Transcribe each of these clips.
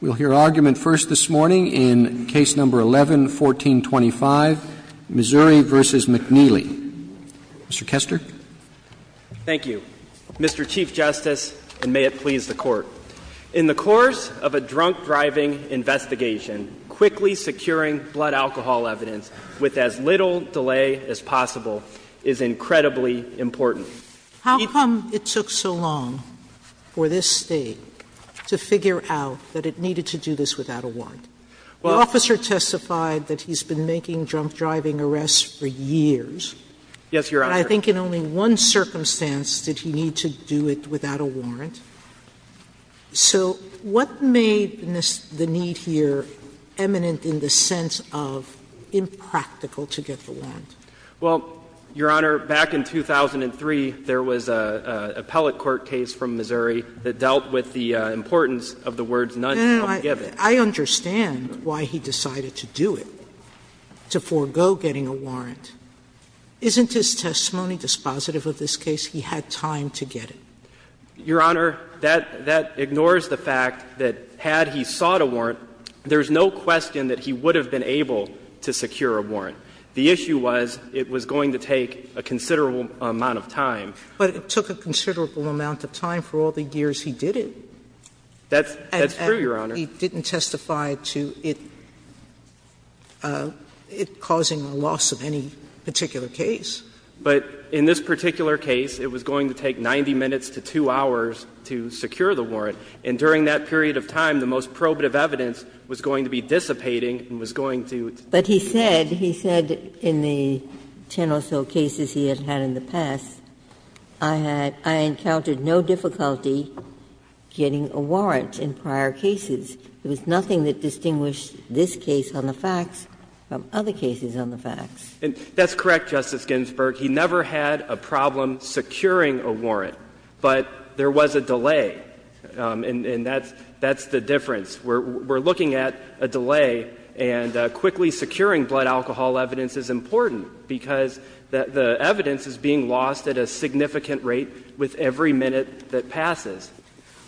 We'll hear argument first this morning in Case No. 11-1425, Missouri v. McNeely. Mr. Kester. Thank you, Mr. Chief Justice, and may it please the Court. In the course of a drunk-driving investigation, quickly securing blood alcohol evidence with as little delay as possible is incredibly important. How come it took so long for this State to figure out that it needed to do this without a warrant? The officer testified that he's been making drunk-driving arrests for years. Yes, Your Honor. But I think in only one circumstance did he need to do it without a warrant. So what made the need here eminent in the sense of impractical to get the warrant? Well, Your Honor, back in 2003, there was an appellate court case from Missouri that dealt with the importance of the words, none shall be given. I understand why he decided to do it, to forego getting a warrant. Isn't his testimony dispositive of this case? He had time to get it. Your Honor, that ignores the fact that had he sought a warrant, there's no question that he would have been able to secure a warrant. The issue was it was going to take a considerable amount of time. But it took a considerable amount of time for all the years he did it. That's true, Your Honor. And he didn't testify to it causing a loss of any particular case. But in this particular case, it was going to take 90 minutes to 2 hours to secure the warrant, and during that period of time, the most probative evidence was going to be dissipating and was going to. But he said, he said in the 10 or so cases he had had in the past, I had — I encountered no difficulty getting a warrant in prior cases. There was nothing that distinguished this case on the facts from other cases on the facts. That's correct, Justice Ginsburg. He never had a problem securing a warrant, but there was a delay, and that's the difference. We're looking at a delay, and quickly securing blood alcohol evidence is important because the evidence is being lost at a significant rate with every minute that passes.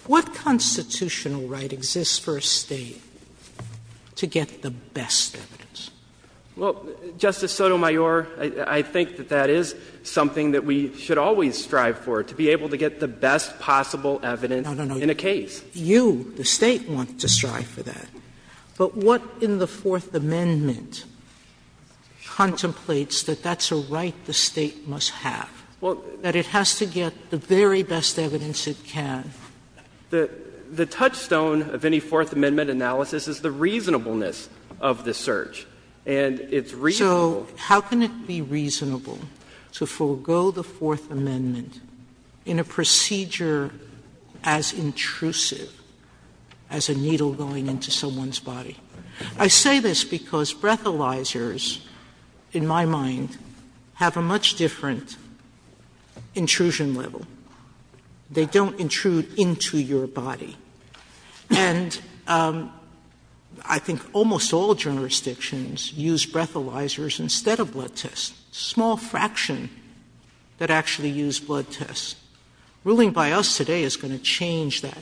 What constitutional right exists for a State to get the best evidence? Well, Justice Sotomayor, I think that that is something that we should always strive for, to be able to get the best possible evidence in a case. If you, the State, want to strive for that, but what in the Fourth Amendment contemplates that that's a right the State must have, that it has to get the very best evidence it can? The touchstone of any Fourth Amendment analysis is the reasonableness of the search, and it's reasonable. So how can it be reasonable to forego the Fourth Amendment in a procedure as intrusive as a needle going into someone's body? I say this because breathalyzers, in my mind, have a much different intrusion level. They don't intrude into your body. And I think almost all jurisdictions use breathalyzers instead of blood tests. A small fraction that actually use blood tests. Ruling by us today is going to change that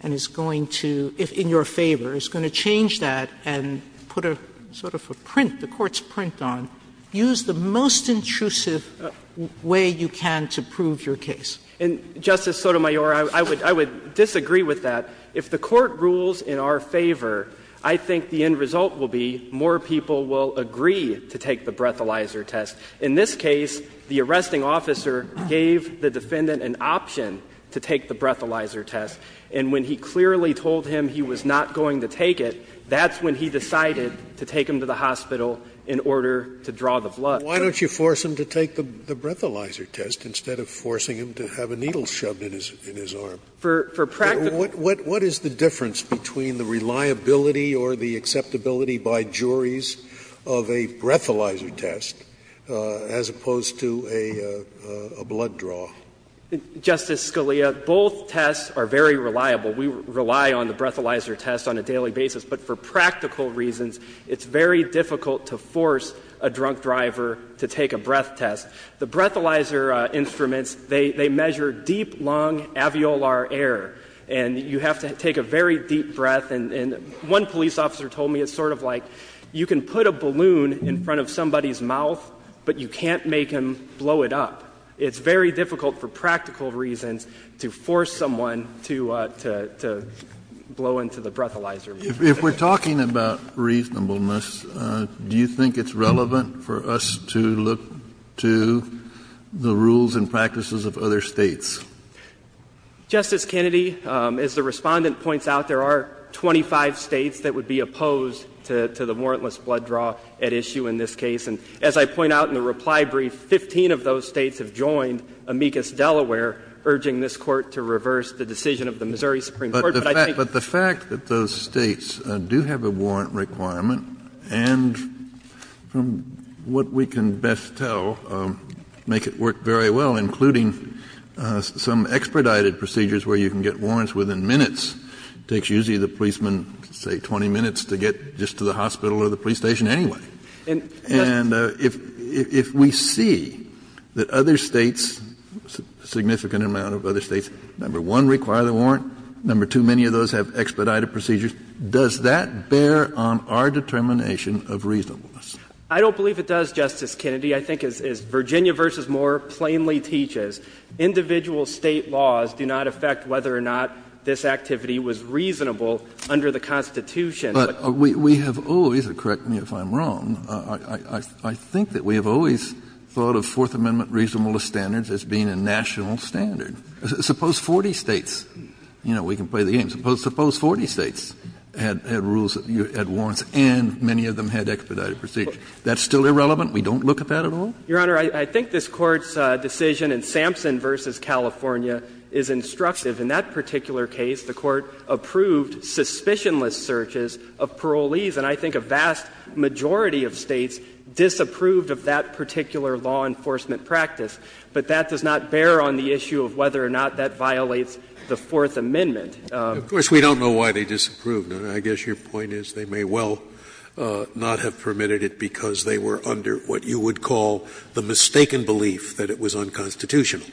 and is going to, if in your favor, is going to change that and put a sort of a print, the Court's print on, use the most intrusive way you can to prove your case. And, Justice Sotomayor, I would disagree with that. If the Court rules in our favor, I think the end result will be more people will agree to take the breathalyzer test. In this case, the arresting officer gave the defendant an option to take the breathalyzer test, and when he clearly told him he was not going to take it, that's when he decided to take him to the hospital in order to draw the blood. Scalia. Why don't you force him to take the breathalyzer test instead of forcing him to have a needle shoved in his arm? For practical reasons. What is the difference between the reliability or the acceptability by juries of a breathalyzer test as opposed to a blood draw? Justice Scalia, both tests are very reliable. We rely on the breathalyzer test on a daily basis, but for practical reasons, it's very difficult to force a drunk driver to take a breath test. The breathalyzer instruments, they measure deep lung alveolar air, and you have to take a very deep breath, and one police officer told me it's sort of like you can put a balloon in front of somebody's mouth, but you can't make him blow it up. It's very difficult for practical reasons to force someone to blow into the breathalyzer. If we're talking about reasonableness, do you think it's relevant for us to look to the rules and practices of other States? Justice Kennedy, as the Respondent points out, there are 25 States that would be opposed to the warrantless blood draw at issue in this case. And as I point out in the reply brief, 15 of those States have joined amicus Delaware, urging this Court to reverse the decision of the Missouri Supreme Court. But I think the fact that those States do have a warrant requirement, and from what we can best tell, make it work very well, including some expedited procedures where you can get warrants within minutes. It takes usually the policeman, say, 20 minutes to get just to the hospital or the police station anyway. And if we see that other States, a significant amount of other States, number one, require the warrant, number two, many of those have expedited procedures, does that bear on our determination of reasonableness? I don't believe it does, Justice Kennedy. I think as Virginia v. Moore plainly teaches, individual State laws do not affect whether or not this activity was reasonable under the Constitution. Kennedy, but we have always, and correct me if I'm wrong, I think that we have always thought of Fourth Amendment reasonableness standards as being a national standard. Suppose 40 States, you know, we can play the game, suppose 40 States had rules, had warrants, and many of them had expedited procedures. That's still irrelevant? We don't look at that at all? Your Honor, I think this Court's decision in Sampson v. California is instructive in that particular case. The Court approved suspicionless searches of parolees, and I think a vast majority of States disapproved of that particular law enforcement practice. But that does not bear on the issue of whether or not that violates the Fourth Amendment. Of course, we don't know why they disapproved. I guess your point is they may well not have permitted it because they were under what you would call the mistaken belief that it was unconstitutional.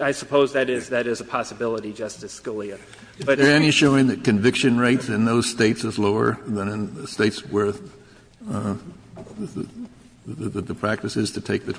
I suppose that is a possibility, Justice Scalia. But if there's any showing that conviction rates in those States is lower than in the States where the practice is to take the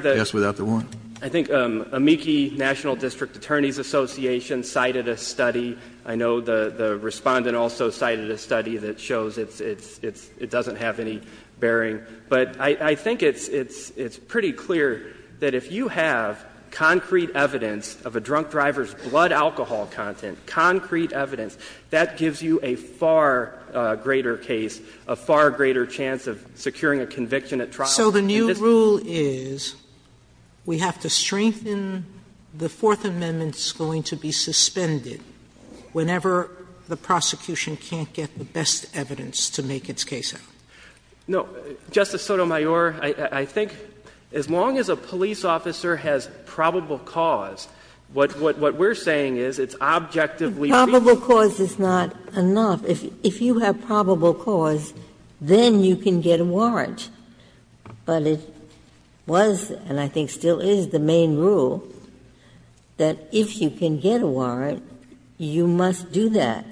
test without the warrant? Your Honor, I think Amici National District Attorneys Association cited a study. I know the Respondent also cited a study that shows it doesn't have any bearing. But I think it's pretty clear that if you have concrete evidence of a drunk driver's blood alcohol content, concrete evidence, that gives you a far greater case, a far greater chance of securing a conviction at trial. Sotomayor So the new rule is we have to strengthen the Fourth Amendment's going to be suspended whenever the prosecution can't get the best evidence to make its case out. No, Justice Sotomayor, I think as long as a police officer has probable cause, what we're saying is it's objectively reasonable. Probable cause is not enough. If you have probable cause, then you can get a warrant. But it was, and I think still is, the main rule that if you can get a warrant, you must do that. If you can't get a warrant, then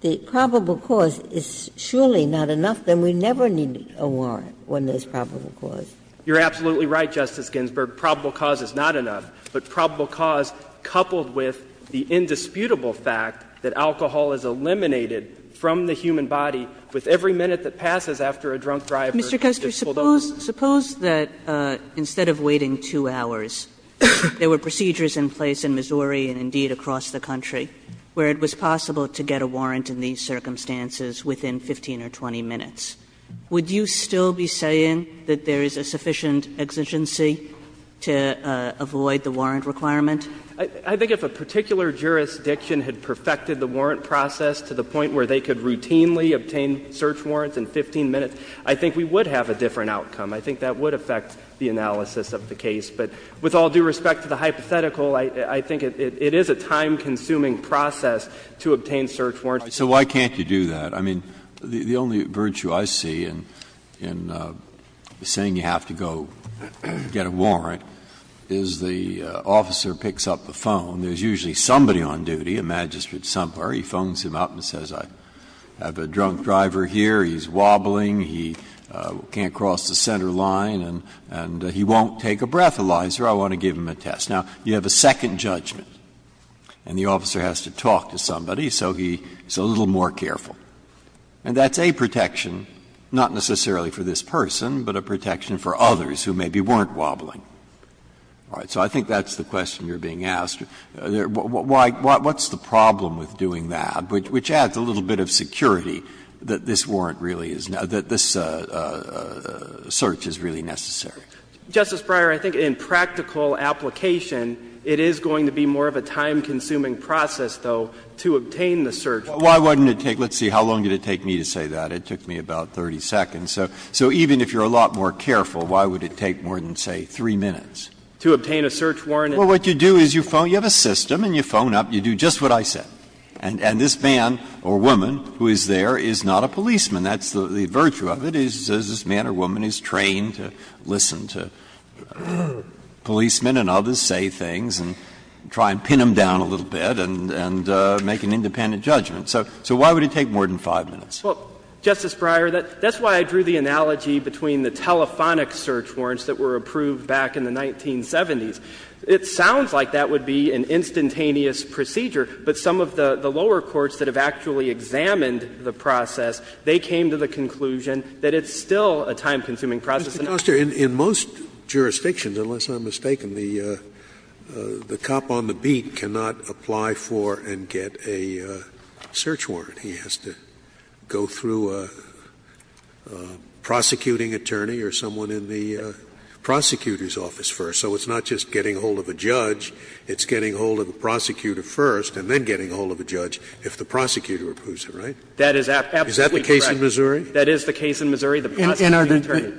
the probable cause is surely not enough, then we never need a warrant when there's probable cause. You're absolutely right, Justice Ginsburg. Probable cause is not enough. But probable cause, coupled with the indisputable fact that alcohol is eliminated from the human body with every minute that passes after a drunk driver gets pulled over. Mr. Kester, suppose that instead of waiting 2 hours, there were procedures in place in Missouri and indeed across the country where it was possible to get a warrant in these circumstances within 15 or 20 minutes. Would you still be saying that there is a sufficient exigency to avoid the warrant requirement? I think if a particular jurisdiction had perfected the warrant process to the point where they could routinely obtain search warrants in 15 minutes, I think we would have a different outcome. I think that would affect the analysis of the case. But with all due respect to the hypothetical, I think it is a time-consuming process to obtain search warrants. Breyer, so why can't you do that? I mean, the only virtue I see in saying you have to go get a warrant is the officer picks up the phone. There's usually somebody on duty, a magistrate somewhere. He phones him up and says, I have a drunk driver here, he's wobbling, he can't cross the center line, and he won't take a breathalyzer, I want to give him a test. Now, you have a second judgment, and the officer has to talk to somebody, so he's a little more careful. And that's a protection, not necessarily for this person, but a protection for others who maybe weren't wobbling. All right. So I think that's the question you're being asked. What's the problem with doing that, which adds a little bit of security that this warrant really is, that this search is really necessary? Justice Breyer, I think in practical application, it is going to be more of a time-consuming process, though, to obtain the search warrant. Well, why wouldn't it take me to say that? It took me about 30 seconds. So even if you're a lot more careful, why would it take more than, say, 3 minutes? To obtain a search warrant. Well, what you do is you have a system and you phone up, you do just what I said. And this man or woman who is there is not a policeman. That's the virtue of it, is this man or woman is trained to listen to policemen and others say things and try and pin them down a little bit and make an independent judgment. So why would it take more than 5 minutes? Well, Justice Breyer, that's why I drew the analogy between the telephonic search warrants that were approved back in the 1970s. It sounds like that would be an instantaneous procedure, but some of the lower courts that have actually examined the process, they came to the conclusion that it's still a time-consuming process. Scalia. In most jurisdictions, unless I'm mistaken, the cop on the beat cannot apply for and get a search warrant. He has to go through a prosecuting attorney or someone in the prosecutor's office first. So it's not just getting a hold of a judge, it's getting a hold of a prosecutor first and then getting a hold of a judge if the prosecutor approves it, right? That is absolutely correct. Is that the case in Missouri? That is the case in Missouri, the prosecuting attorney.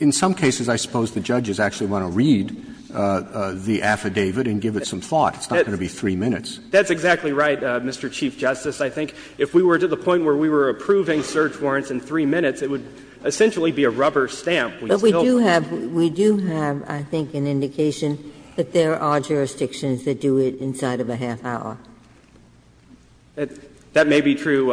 In some cases, I suppose the judges actually want to read the affidavit and give it some thought. It's not going to be 3 minutes. That's exactly right, Mr. Chief Justice. I think if we were to the point where we were approving search warrants in 3 minutes, it would essentially be a rubber stamp. But we do have, I think, an indication that there are jurisdictions that do it inside of a half hour. That may be true,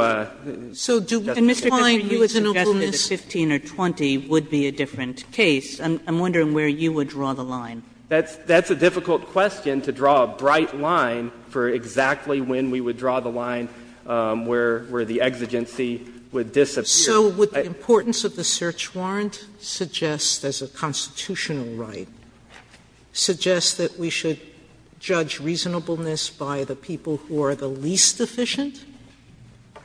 Justice Ginsburg. And, Mr. Feinberg, you had suggested that 15 or 20 would be a different case. I'm wondering where you would draw the line. That's a difficult question to draw a bright line for exactly when we would draw the line where the exigency would disappear. Sotomayor, so would the importance of the search warrant suggest, as a constitutional right, suggest that we should judge reasonableness by the people who are the least efficient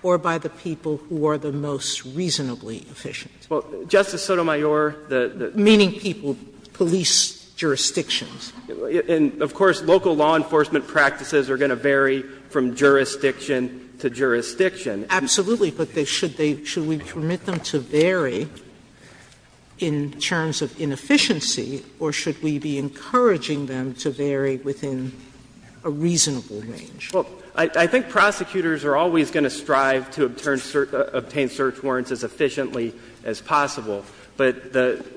or by the people who are the most reasonably efficient? Well, Justice Sotomayor, the the Meaning people, police jurisdictions. And, of course, local law enforcement practices are going to vary from jurisdiction to jurisdiction. Absolutely. But should we permit them to vary in terms of inefficiency, or should we be encouraging them to vary within a reasonable range? Well, I think prosecutors are always going to strive to obtain search warrants as efficiently as possible. But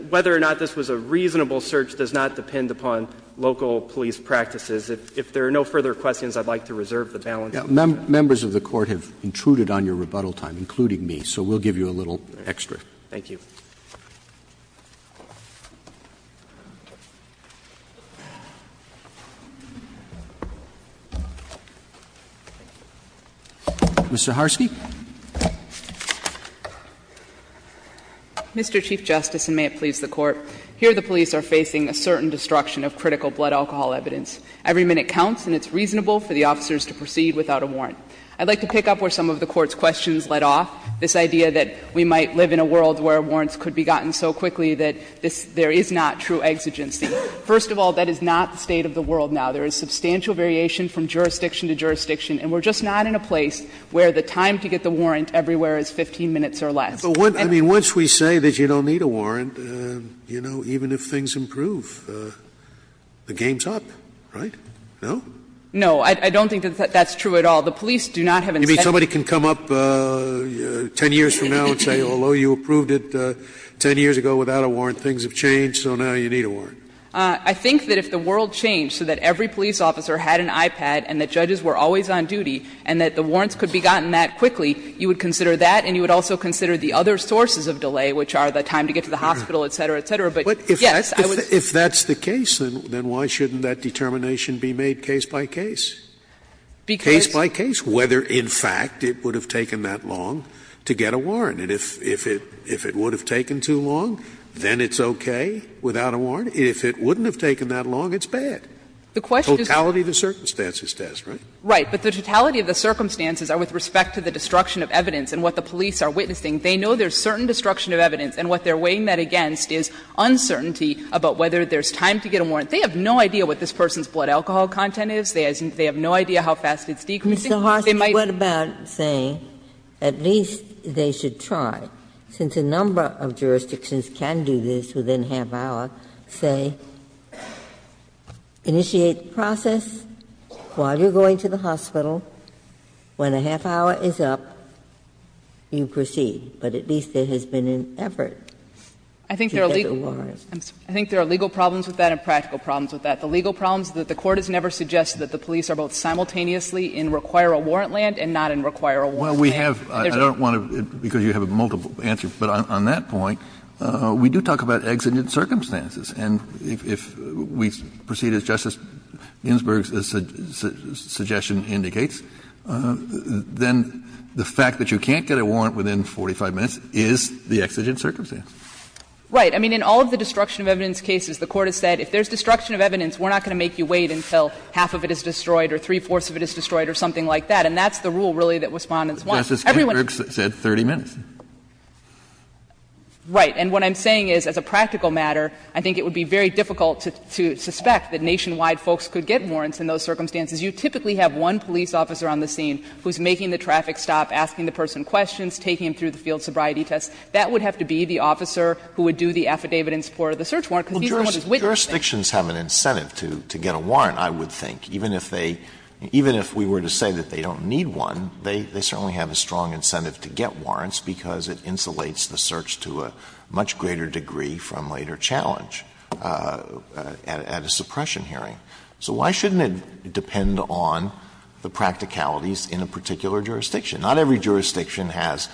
whether or not this was a reasonable search does not depend upon local police practices. Members of the Court have intruded on your rebuttal time, including me, so we'll give you a little extra. Thank you. Mr. Harsky. Mr. Chief Justice, and may it please the Court, here the police are facing a certain destruction of critical blood alcohol evidence. Every minute counts, and it's reasonable for the officers to proceed without a warrant. I'd like to pick up where some of the Court's questions led off, this idea that we might live in a world where warrants could be gotten so quickly that there is not true exigency. First of all, that is not the state of the world now. There is substantial variation from jurisdiction to jurisdiction, and we're just not in a place where the time to get the warrant everywhere is 15 minutes or less. I mean, once we say that you don't need a warrant, you know, even if things improve, the game's up, right? No? No. I don't think that that's true at all. The police do not have incentive. You mean somebody can come up 10 years from now and say, although you approved it 10 years ago without a warrant, things have changed, so now you need a warrant? I think that if the world changed so that every police officer had an iPad and that judges were always on duty and that the warrants could be gotten that quickly, you would consider that and you would also consider the other sources of delay, which are the time to get to the hospital, et cetera, et cetera. But, yes, I would say that. If that's the case, then why shouldn't that determination be made case by case? Because by case, whether, in fact, it would have taken that long to get a warrant. And if it would have taken too long, then it's okay without a warrant. If it wouldn't have taken that long, it's bad. The question is. Totality of the circumstances test, right? Right. But the totality of the circumstances are with respect to the destruction of evidence and what the police are witnessing. They know there's certain destruction of evidence, and what they're weighing that against is uncertainty about whether there's time to get a warrant. They have no idea what this person's blood alcohol content is. They have no idea how fast it's decreasing. They might. Ginsburg. What about saying at least they should try, since a number of jurisdictions can do this within half hour, say, initiate the process while you're going to the hospital, when a half hour is up, you proceed. But at least there has been an effort. I think there are legal problems with that and practical problems with that. The legal problems is that the Court has never suggested that the police are both simultaneously in require a warrant land and not in require a warrant land. Kennedy. I don't want to, because you have a multiple answer, but on that point, we do talk about exigent circumstances. And if we proceed as Justice Ginsburg's suggestion indicates, then the fact that you can't get a warrant within 45 minutes is the exigent circumstance. Right. I mean, in all of the destruction of evidence cases, the Court has said if there's destruction of evidence, we're not going to make you wait until half of it is destroyed or three-fourths of it is destroyed or something like that. And that's the rule, really, that Respondents want. Justice Ginsburg said 30 minutes. Right. And what I'm saying is, as a practical matter, I think it would be very difficult to suspect that nationwide folks could get warrants in those circumstances. You typically have one police officer on the scene who's making the traffic stop, asking the person questions, taking him through the field sobriety test. That would have to be the officer who would do the affidavit in support of the search warrant, because he's the one who's witnessing. Alitoson Jurisdictions have an incentive to get a warrant, I would think. Even if they — even if we were to say that they don't need one, they certainly have a strong incentive to get warrants because it insulates the search to a much greater degree from later challenge at a suppression hearing. So why shouldn't it depend on the practicalities in a particular jurisdiction? Not every jurisdiction has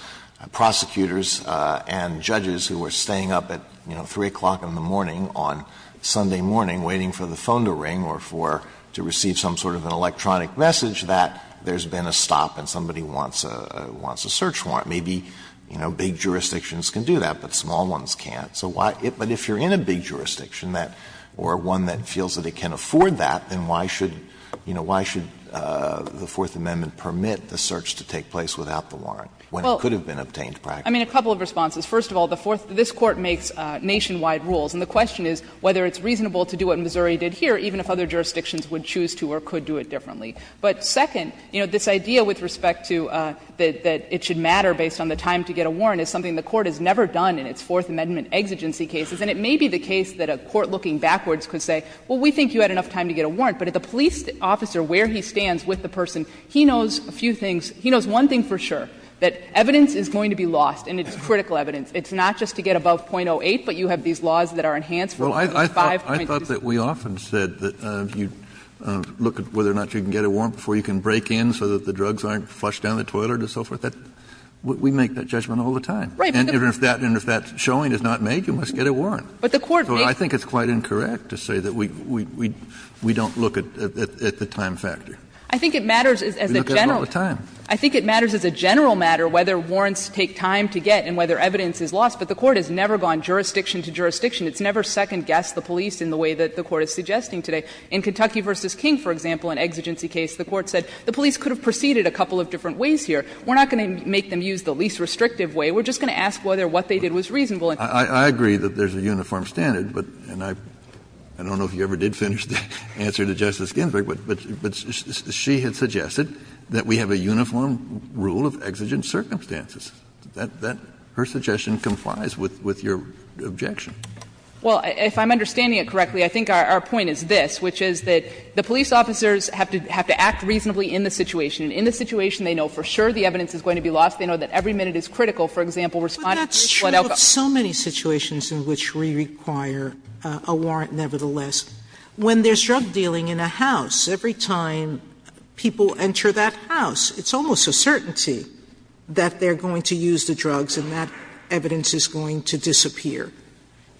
prosecutors and judges who are staying up at, you know, 3 o'clock in the morning on Sunday morning waiting for the phone to ring or for — to receive some sort of an electronic message that there's been a stop and somebody wants a search warrant. Maybe, you know, big jurisdictions can do that, but small ones can't. So why — but if you're in a big jurisdiction that — or one that feels that it can afford that, then why should — you know, why should the Fourth Amendment permit the search to take place without the warrant, when it could have been obtained practically? Well, I mean, a couple of responses. First of all, the Fourth — this Court makes nationwide rules, and the question is whether it's reasonable to do what Missouri did here, even if other jurisdictions would choose to or could do it differently. But second, you know, this idea with respect to that it should matter based on the time to get a warrant is something the Court has never done in its Fourth Amendment exigency cases. And it may be the case that a court looking backwards could say, well, we think you had enough time to get a warrant, but if the police officer, where he stands with the person, he knows a few things. He knows one thing for sure, that evidence is going to be lost, and it's critical evidence. It's not just to get above .08, but you have these laws that are enhanced for .05. Kennedy, I thought that we often said that you look at whether or not you can get a warrant before you can break in so that the drugs aren't flushed down the toilet and so forth. We make that judgment all the time. And if that — and if that showing is not made, you must get a warrant. So I think it's quite incorrect to say that we don't look at the time factor. We look at it all the time. I think it matters as a general matter whether warrants take time to get and whether evidence is lost. But the Court has never gone jurisdiction to jurisdiction. It's never second-guessed the police in the way that the Court is suggesting today. In Kentucky v. King, for example, an exigency case, the Court said the police could have proceeded a couple of different ways here. We're not going to make them use the least restrictive way. We're just going to ask whether what they did was reasonable. I agree that there's a uniform standard, but — and I don't know if you ever did answer to Justice Ginsburg, but she had suggested that we have a uniform rule of exigent circumstances. That — her suggestion complies with your objection. Well, if I'm understanding it correctly, I think our point is this, which is that the police officers have to act reasonably in the situation. In the situation, they know for sure the evidence is going to be lost. They know that every minute is critical. For example, responding to a flood outcome. But that's true of so many situations in which we require a warrant nevertheless. When there's drug dealing in a house, every time people enter that house, it's almost a certainty that they're going to use the drugs and that evidence is going to disappear.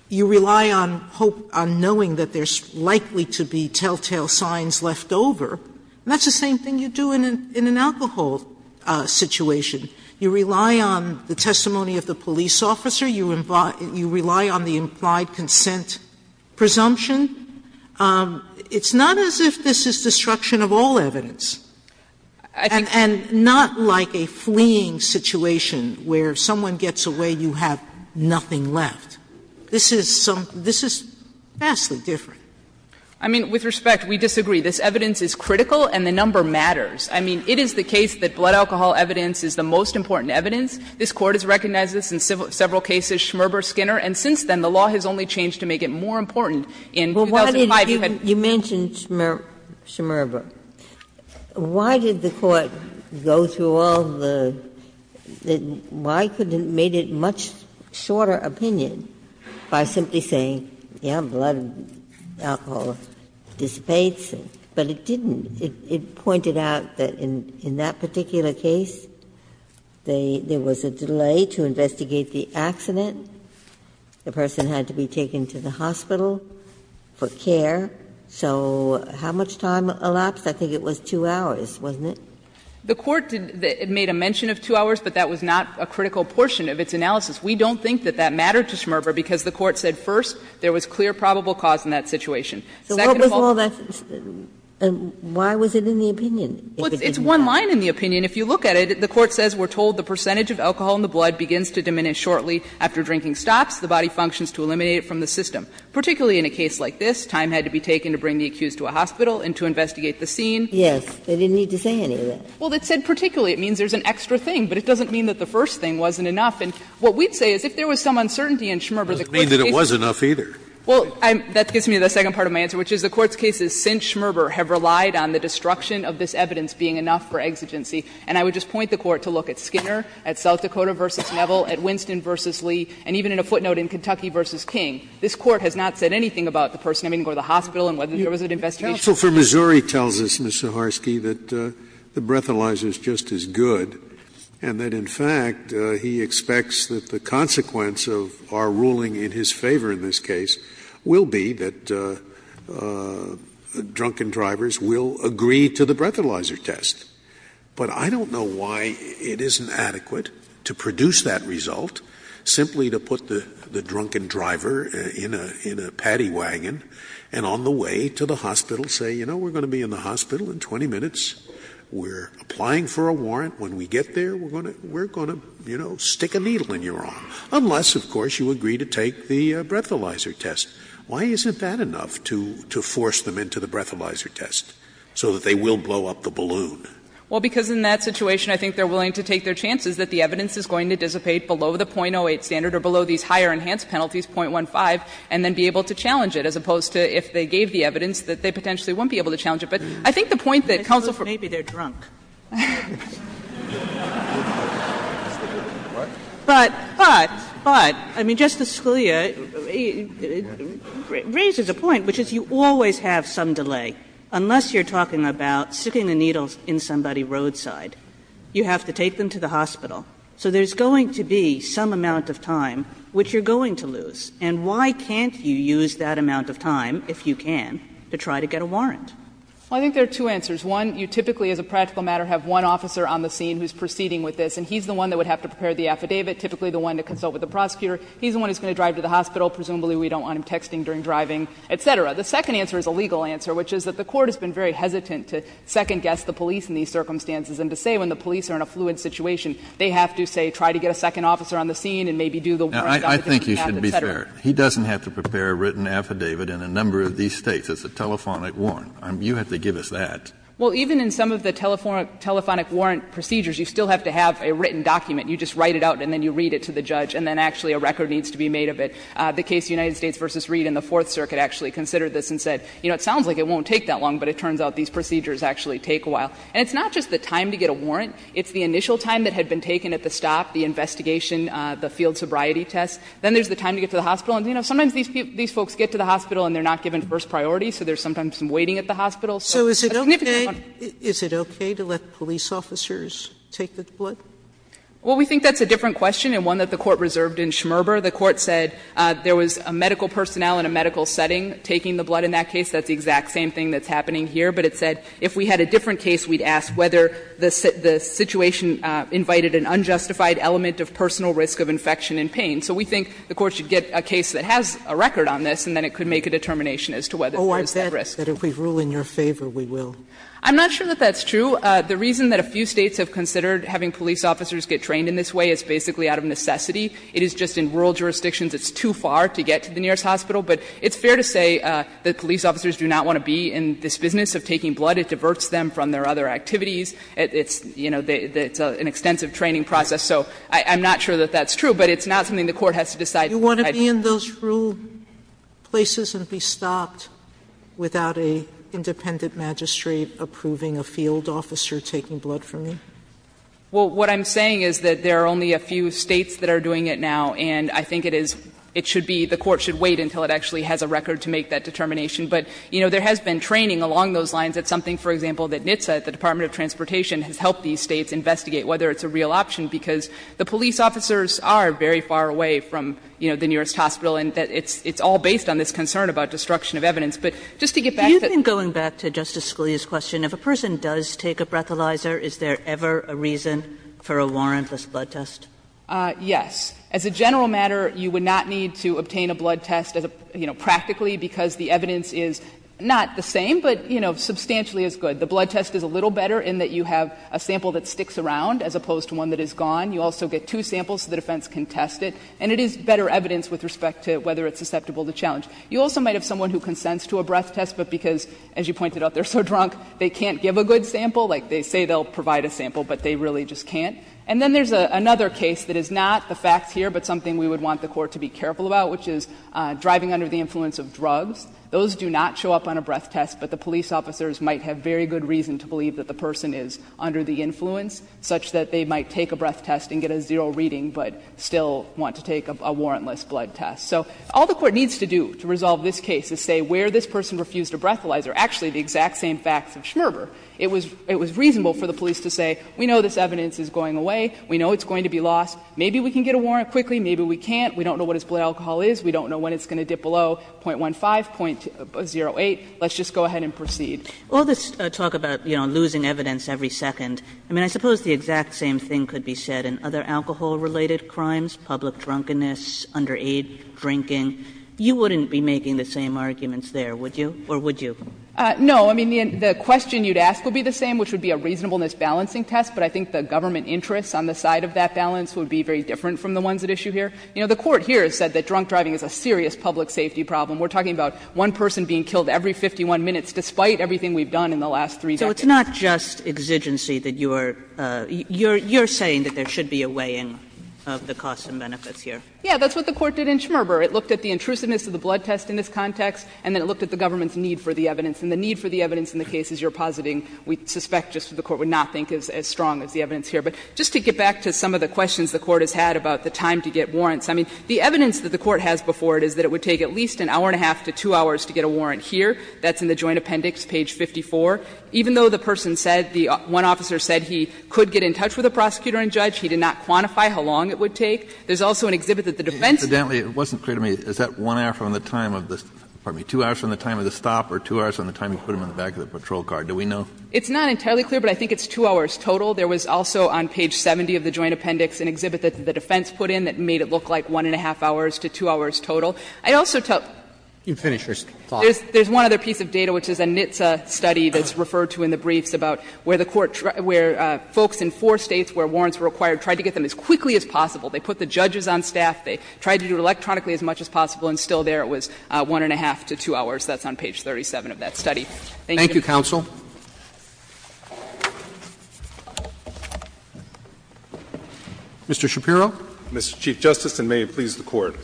You rely on hope, on knowing that there's likely to be telltale signs left over. And that's the same thing you do in an alcohol situation. You rely on the testimony of the police officer. You rely on the implied consent presumption. It's not as if this is destruction of all evidence. And not like a fleeing situation where someone gets away, you have nothing left. This is some — this is vastly different. I mean, with respect, we disagree. This evidence is critical and the number matters. I mean, it is the case that blood alcohol evidence is the most important evidence. This Court has recognized this in several cases, Schmerber, Skinner. And since then, the law has only changed to make it more important. In 2005, you had to do that. Ginsburg You mentioned Schmerber. Why did the Court go through all the — why couldn't it have made it a much shorter opinion by simply saying, yes, blood alcohol dissipates? But it didn't. It pointed out that in that particular case, there was a delay to investigate the accident, the person had to be taken to the hospital for care. So how much time elapsed? I think it was 2 hours, wasn't it? The Court made a mention of 2 hours, but that was not a critical portion of its analysis. We don't think that that mattered to Schmerber, because the Court said, first, there was clear probable cause in that situation. Second of all, that's the question. And why was it in the opinion? It's one line in the opinion. If you look at it, the Court says, we're told the percentage of alcohol in the blood begins to diminish shortly after drinking stops, the body functions to eliminate it from the system. Particularly in a case like this, time had to be taken to bring the accused to a hospital and to investigate the scene. Ginsburg Yes. They didn't need to say any of that. Saharsky Well, it said particularly. It means there's an extra thing, but it doesn't mean that the first thing wasn't And what we'd say is, if there was some uncertainty in Schmerber, the Court's case wasn't enough. Scalia Well, it doesn't mean that it was enough, either. Saharsky Well, that gets me to the second part of my answer, which is the Court's case is, since Schmerber, have relied on the destruction of this evidence being enough for exigency, and I would just point the Court to look at Skinner at South Dakota v. Neville, at Winston v. Lee, and even in a footnote in Kentucky v. King, this Court has not said anything about the person having to go to the hospital and whether there was an investigation. Scalia So for Missouri tells us, Ms. Saharsky, that the breathalyzer is just as good and that, in fact, he expects that the consequence of our ruling in his favor in this case will be that drunken drivers will agree to the breathalyzer test. But I don't know why it isn't adequate to produce that result simply to put the drunken driver in a paddy wagon and on the way to the hospital say, you know, we're going to be in the hospital in 20 minutes, we're applying for a warrant, when we get there, we're going to, you know, stick a needle in your arm, unless, of course, you agree to take the breathalyzer test. Why isn't that enough to force them into the breathalyzer test so that they will blow up the balloon? Saharsky Well, because in that situation, I think they're willing to take their chances that the evidence is going to dissipate below the .08 standard or below these higher enhanced penalties, .15, and then be able to challenge it, as opposed to if they gave the evidence that they potentially wouldn't be able to challenge But I think the point that counsel for- Sotomayor Ms. Saharsky, maybe they're drunk. Sotomayor But, but, but, I mean, Justice Scalia raises a point, which is you always have some delay, unless you're talking about sticking the needles in somebody roadside. You have to take them to the hospital. So there's going to be some amount of time which you're going to lose. And why can't you use that amount of time, if you can, to try to get a warrant? Saharsky Well, I think there are two answers. One, you typically, as a practical matter, have one officer on the scene who is proceeding with this, and he's the one that would have to prepare the affidavit, typically the one to consult with the prosecutor. He's the one who is going to drive to the hospital. Presumably, we don't want him texting during driving, et cetera. The second answer is a legal answer, which is that the Court has been very hesitant to second-guess the police in these circumstances, and to say when the police are in a fluent situation, they have to, say, try to get a second officer on the scene and maybe do the warrant, et cetera, et cetera. Kennedy Now, I think you should be fair. He doesn't have to prepare a written affidavit in a number of these States. It's a telephonic warrant. You have to give us that. Saharsky Well, even in some of the telephonic warrant procedures, you still have to have a written document. You just write it out, and then you read it to the judge, and then actually a record needs to be made of it. The case United States v. Reed in the Fourth Circuit actually considered this and said, you know, it sounds like it won't take that long, but it turns out these procedures actually take a while. And it's not just the time to get a warrant. It's the initial time that had been taken at the stop, the investigation, the field sobriety test. Then there's the time to get to the hospital. And, you know, sometimes these folks get to the hospital and they're not given first priority, so there's sometimes some waiting at the hospital. Sotomayor So is it okay, is it okay to let police officers take the blood? Saharsky Well, we think that's a different question and one that the Court reserved in Schmerber. The Court said there was a medical personnel in a medical setting taking the blood in that case. That's the exact same thing that's happening here. But it said if we had a different case, we'd ask whether the situation invited an unjustified element of personal risk of infection and pain. So we think the Court should get a case that has a record on this, and then it could make a determination as to whether there was that risk. Sotomayor Oh, I bet that if we rule in your favor, we will. Saharsky I'm not sure that that's true. The reason that a few States have considered having police officers get trained in this way is basically out of necessity. It is just in rural jurisdictions it's too far to get to the nearest hospital. But it's fair to say that police officers do not want to be in this business of taking blood. It diverts them from their other activities. It's, you know, it's an extensive training process. So I'm not sure that that's true, but it's not something the Court has to decide at that time. Sotomayor Can't I be in those rural places and be stopped without an independent magistrate approving a field officer taking blood for me? Saharsky Well, what I'm saying is that there are only a few States that are doing it now, and I think it is – it should be – the Court should wait until it actually has a record to make that determination. But, you know, there has been training along those lines. It's something, for example, that NHTSA, the Department of Transportation, has helped these States investigate whether it's a real option, because the police officers are very far away from, you know, the nearest hospital, and it's all based on this concern about destruction of evidence. But just to get back to the question that Justice Scalia raised, if a person does take a breathalyzer, is there ever a reason for a warrantless blood test? Saharsky Yes. As a general matter, you would not need to obtain a blood test, you know, practically, because the evidence is not the same, but, you know, substantially as good. The blood test is a little better in that you have a sample that sticks around as opposed to one that is gone. You also get two samples, so the defense can test it, and it is better evidence with respect to whether it's susceptible to challenge. You also might have someone who consents to a breath test, but because, as you pointed out, they're so drunk, they can't give a good sample. Like, they say they'll provide a sample, but they really just can't. And then there's another case that is not the facts here, but something we would want the Court to be careful about, which is driving under the influence of drugs. Those do not show up on a breath test, but the police officers might have very good reason to believe that the person is under the influence, such that they might take a breath test and get a zero reading, but still want to take a warrantless blood test. So all the Court needs to do to resolve this case is say where this person refused a breathalyzer, actually the exact same facts of Schmerber, it was reasonable for the police to say, we know this evidence is going away, we know it's going to be lost, maybe we can get a warrant quickly, maybe we can't, we don't know what his blood alcohol is, we don't know when it's going to dip below 0.15, 0.08, let's just go ahead and proceed. Kagan. All this talk about, you know, losing evidence every second, I mean, I suppose the exact same thing could be said in other alcohol-related crimes, public drunkenness, underage drinking. You wouldn't be making the same arguments there, would you? Or would you? No. I mean, the question you'd ask would be the same, which would be a reasonableness balancing test, but I think the government interests on the side of that balance would be very different from the ones at issue here. You know, the Court here has said that drunk driving is a serious public safety problem. We're talking about one person being killed every 51 minutes, despite everything we've done in the last three decades. So it's not just exigency that you're – you're saying that there should be a weigh-in of the costs and benefits here. Yeah. That's what the Court did in Schmerber. It looked at the intrusiveness of the blood test in this context, and then it looked at the government's need for the evidence. And the need for the evidence in the cases you're positing, we suspect, just that the Court would not think is as strong as the evidence here. But just to get back to some of the questions the Court has had about the time to get warrants, I mean, the evidence that the Court has before it is that it would take at least an hour and a half to two hours to get a warrant here. That's in the Joint Appendix, page 54. Even though the person said – the one officer said he could get in touch with a prosecutor and judge, he did not quantify how long it would take. There's also an exhibit that the defense— Incidentally, it wasn't clear to me, is that one hour from the time of the – pardon me, two hours from the time of the stop or two hours from the time you put him in the back of the patrol car? Do we know? It's not entirely clear, but I think it's two hours total. There was also on page 70 of the Joint Appendix an exhibit that the defense put in that made it look like one and a half hours to two hours total. I'd also tell— You can finish your thought. There's one other piece of data, which is a NHTSA study that's referred to in the briefs about where the Court – where folks in four states where warrants were required tried to get them as quickly as possible. They put the judges on staff. They tried to do it electronically as much as possible, and still there it was one and a half to two hours. That's on page 37 of that study. Thank you. Mr. Shapiro. Mr. Chief Justice, and may it please the Court.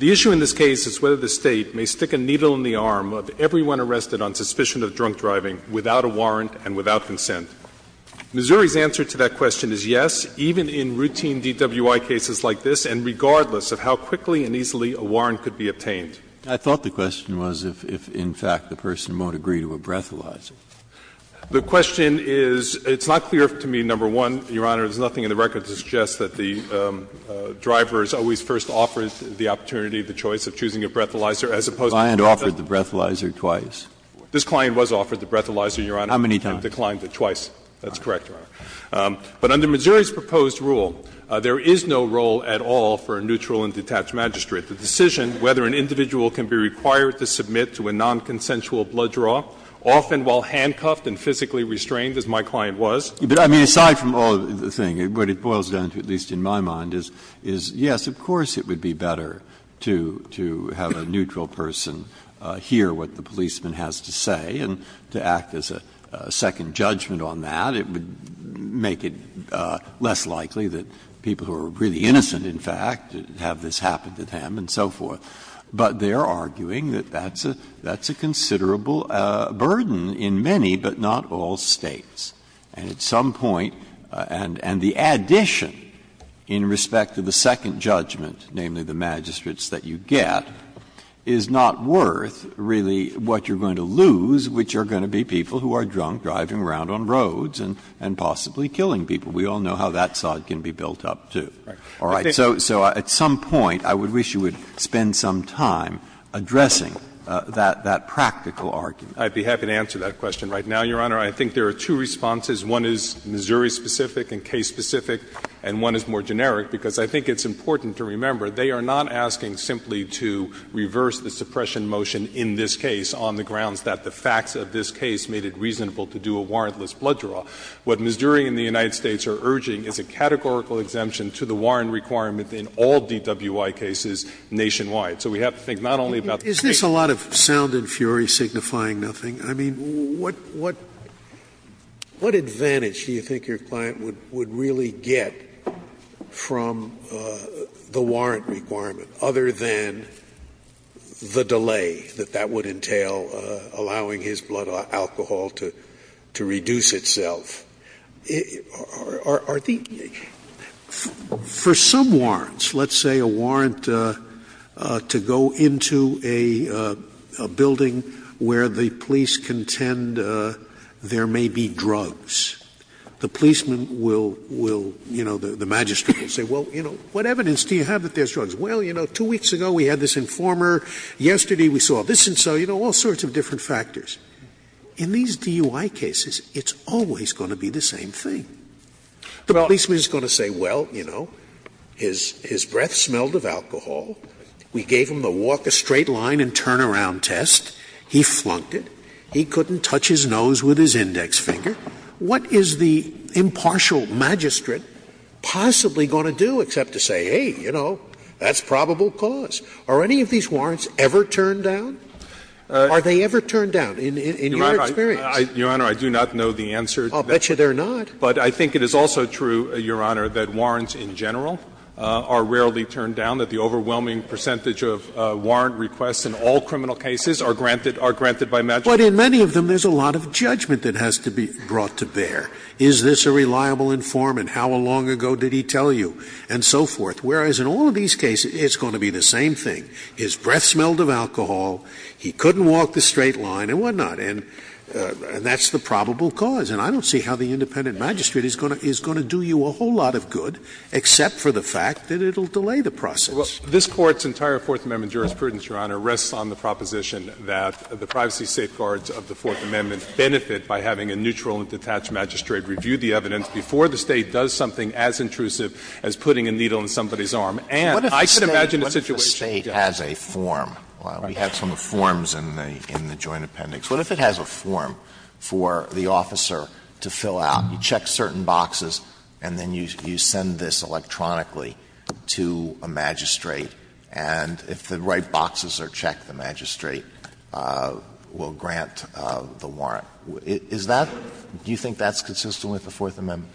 The issue in this case is whether the State may stick a needle in the arm of everyone arrested on suspicion of drunk driving without a warrant and without consent. Missouri's answer to that question is yes, even in routine DWI cases like this and regardless of how quickly and easily a warrant could be obtained. I thought the question was if, in fact, the person won't agree to a breathalyzer. The question is – it's not clear to me, number one, Your Honor, there's nothing in the record to suggest that the driver is always first offered the opportunity of the choice of choosing a breathalyzer, as opposed to the fact that the – The client offered the breathalyzer twice. This client was offered the breathalyzer, Your Honor. How many times? He declined it twice. That's correct, Your Honor. But under Missouri's proposed rule, there is no role at all for a neutral and detached magistrate. The decision whether an individual can be required to submit to a nonconsensual blood draw, often while handcuffed and physically restrained, as my client was – But, I mean, aside from all of the thing, what it boils down to, at least in my mind, is, yes, of course it would be better to have a neutral person hear what the policeman has to say and to act as a second judgment on that. It would make it less likely that people who are really innocent, in fact, have this happen to them and so forth. But they are arguing that that's a considerable burden in many, but not all, States. And at some point – and the addition in respect to the second judgment, namely the magistrates that you get, is not worth really what you're going to lose, which are going to be people who are drunk driving around on roads and possibly killing people. We all know how that side can be built up, too. All right. So at some point, I would wish you would spend some time addressing that practical argument. I'd be happy to answer that question right now, Your Honor. I think there are two responses. One is Missouri-specific and case-specific, and one is more generic, because I think it's important to remember they are not asking simply to reverse the suppression motion in this case on the grounds that the facts of this case made it reasonable to do a warrantless blood draw. What Missouri and the United States are urging is a categorical exemption to the warrant requirement in all DWI cases nationwide. So we have to think not only about the case. Scalia is this a lot of sound and fury signifying nothing? I mean, what advantage do you think your client would really get from the warrant requirement, other than the delay that that would entail allowing his blood alcohol to reduce itself? Are the — for some warrants, let's say a warrant to go into a building where the police contend there may be drugs, the policeman will, you know, the magistrate will say, well, you know, what evidence do you have that there's drugs? Well, you know, two weeks ago we had this informer. Yesterday we saw this and so, you know, all sorts of different factors. In these DUI cases, it's always going to be the same thing. The policeman is going to say, well, you know, his breath smelled of alcohol. We gave him the walk a straight line and turn around test. He flunked it. He couldn't touch his nose with his index finger. What is the impartial magistrate possibly going to do except to say, hey, you know, that's probable cause? Are any of these warrants ever turned down? Are they ever turned down? In your experience? Fisherman, I do not know the answer. I'll bet you they're not. But I think it is also true, Your Honor, that warrants in general are rarely turned down, that the overwhelming percentage of warrant requests in all criminal cases are granted by magistrates. But in many of them, there's a lot of judgment that has to be brought to bear. Is this a reliable informant? How long ago did he tell you? And so forth. Whereas in all of these cases, it's going to be the same thing. His breath smelled of alcohol. He couldn't walk the straight line. And that's the probable cause. And I don't see how the independent magistrate is going to do you a whole lot of good except for the fact that it will delay the process. This Court's entire Fourth Amendment jurisprudence, Your Honor, rests on the proposition that the privacy safeguards of the Fourth Amendment benefit by having a neutral and detached magistrate review the evidence before the State does something as intrusive as putting a needle in somebody's arm. And I can imagine a situation where the State does that. What if the State has a form? We have some forms in the Joint Appendix. What if it has a form for the officer to fill out? You check certain boxes and then you send this electronically to a magistrate, and if the right boxes are checked, the magistrate will grant the warrant. Is that do you think that's consistent with the Fourth Amendment?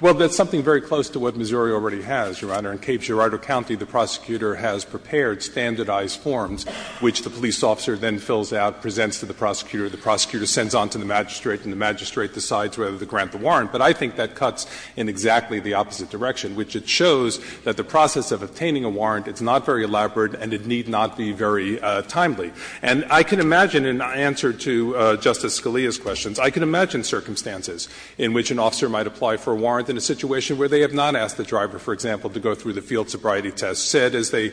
Well, that's something very close to what Missouri already has, Your Honor. In Cape Girardeau County, the prosecutor has prepared standardized forms, which the police officer then fills out, presents to the prosecutor, the prosecutor sends on to the magistrate, and the magistrate decides whether to grant the warrant. But I think that cuts in exactly the opposite direction, which it shows that the process of obtaining a warrant, it's not very elaborate and it need not be very timely. And I can imagine, in answer to Justice Scalia's questions, I can imagine circumstances in which an officer might apply for a warrant in a situation where they have not asked the driver, for example, to go through the field sobriety test, said as they,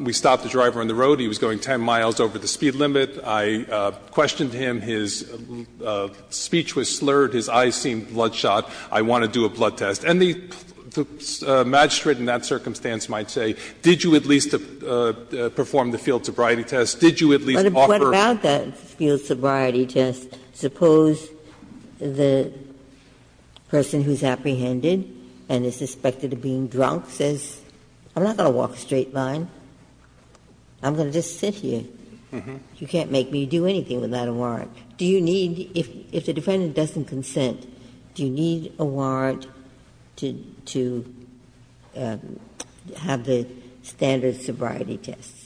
we stopped the driver on the road, he was going 10 miles over the speed limit, I questioned him, his speech was slurred, his eyes seemed bloodshot, I want to do a blood test. And the magistrate in that circumstance might say, did you at least perform the field sobriety test, did you at least offer. Ginsburg's question is about that field sobriety test, suppose the person who is apprehended and is suspected of being drunk says, I'm not going to walk a straight line, I'm going to just sit here, you can't make me do anything without a warrant. Do you need, if the defendant doesn't consent, do you need a warrant to have the standard sobriety test?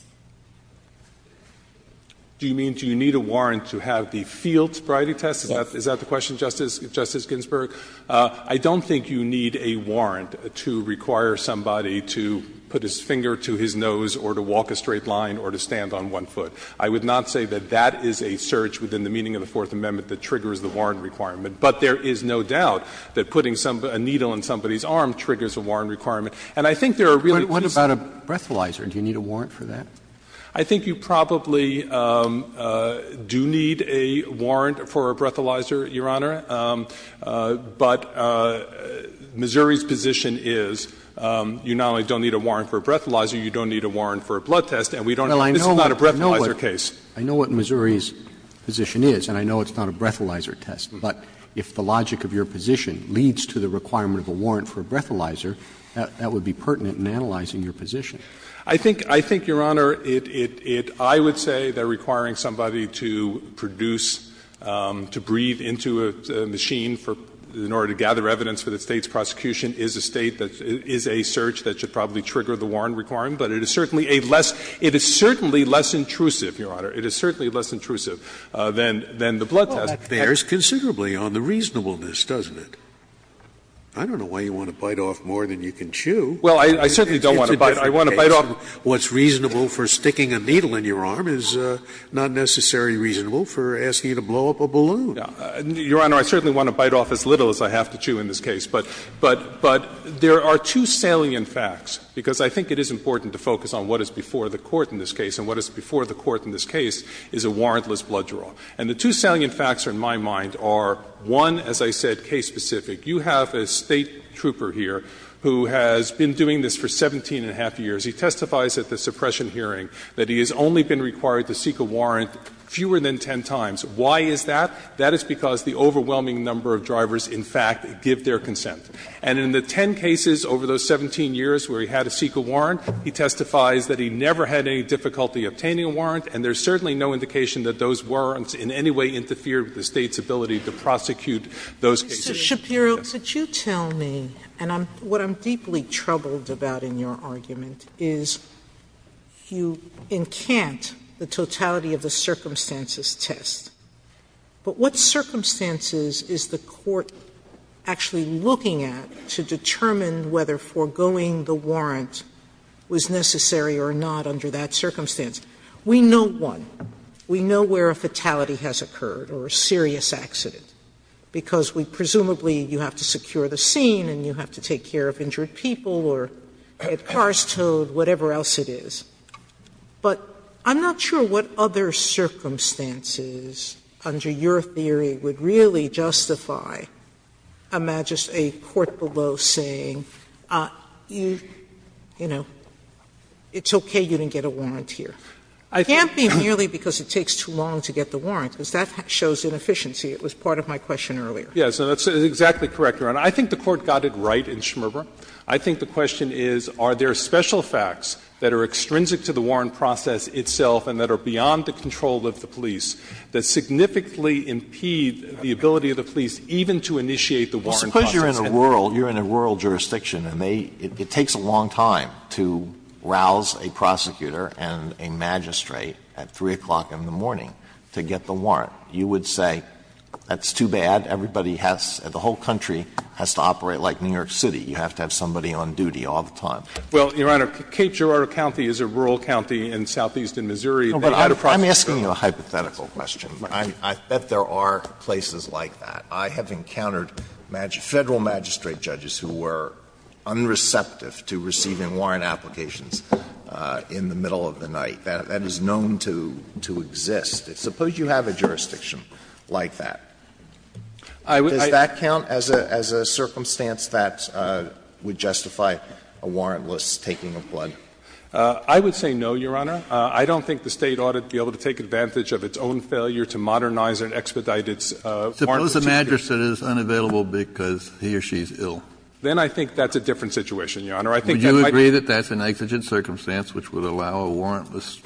Do you mean, do you need a warrant to have the field sobriety test? Is that the question, Justice Ginsburg? I don't think you need a warrant to require somebody to put his finger to his nose or to walk a straight line or to stand on one foot. I would not say that that is a search within the meaning of the Fourth Amendment that triggers the warrant requirement. But there is no doubt that putting a needle in somebody's arm triggers a warrant requirement. And I think there are really two sides to that. What about a breathalyzer? Do you need a warrant for that? I think you probably do need a warrant for a breathalyzer, Your Honor. But Missouri's position is, you not only don't need a warrant for a breathalyzer, you don't need a warrant for a blood test, and we don't need to, this is not a breathalyzer case. I know what Missouri's position is, and I know it's not a breathalyzer test. But if the logic of your position leads to the requirement of a warrant for a breathalyzer, that would be pertinent in analyzing your position. I think, Your Honor, it — I would say that requiring somebody to produce, to breathe into a machine for — in order to gather evidence for the State's prosecution is a State that — is a search that should probably trigger the warrant requirement. But it is certainly a less — it is certainly less intrusive, Your Honor. It is certainly less intrusive than the blood test. Scalia. Well, that bears considerably on the reasonableness, doesn't it? I don't know why you want to bite off more than you can chew. Well, I certainly don't want to bite off — I want to bite off — What's reasonable for sticking a needle in your arm is not necessarily reasonable for asking you to blow up a balloon. Your Honor, I certainly want to bite off as little as I have to chew in this case. But — but there are two salient facts, because I think it is important to focus on what is before the court in this case, and what is before the court in this case is a warrantless blood draw. And the two salient facts are, in my mind, are, one, as I said, case-specific. You have a State trooper here who has been doing this for 17 and a half years. He testifies at the suppression hearing that he has only been required to seek a warrant fewer than 10 times. Why is that? That is because the overwhelming number of drivers, in fact, give their consent. And in the 10 cases over those 17 years where he had to seek a warrant, he testifies that he never had any difficulty obtaining a warrant, and there is certainly no indication that those warrants in any way interfere with the State's ability to prosecute those cases. Sotomayor, could you tell me, and what I'm deeply troubled about in your argument is, you encant the totality of the circumstances test, but what circumstances is the court actually looking at to determine whether foregoing the warrant was necessary or not under that circumstance? We know one. We know where a fatality has occurred or a serious accident, because we presumably you have to secure the scene and you have to take care of injured people or get cars towed, whatever else it is. But I'm not sure what other circumstances under your theory would really justify a court below saying, you know, it's okay, you didn't get a warrant here. It can't be merely because it takes too long to get the warrant, because that shows inefficiency. It was part of my question earlier. Yes, and that's exactly correct, Your Honor. I think the court got it right in Schmerber. I think the question is, are there special facts that are extrinsic to the warrant process itself and that are beyond the control of the police that significantly impede the ability of the police even to initiate the warrant process? Well, suppose you're in a rural jurisdiction and they — it takes a long time to rouse a prosecutor and a magistrate at 3 o'clock in the morning to get the warrant. You would say that's too bad, everybody has — the whole country has to operate like New York City. You have to have somebody on duty all the time. Well, Your Honor, Cape Girardeau County is a rural county in southeastern Missouri. They had a prosecutor. No, but I'm asking you a hypothetical question. I bet there are places like that. I have encountered federal magistrate judges who were unreceptive to receiving warrant applications in the middle of the night. That is known to exist. Suppose you have a jurisdiction like that. Does that count as a circumstance that would justify a warrantless taking of blood? I would say no, Your Honor. I don't think the State ought to be able to take advantage of its own failure to modernize and expedite its warrant procedure. Suppose a magistrate is unavailable because he or she is ill. Then I think that's a different situation, Your Honor. Would you agree that that's an exigent circumstance which would allow a warrantless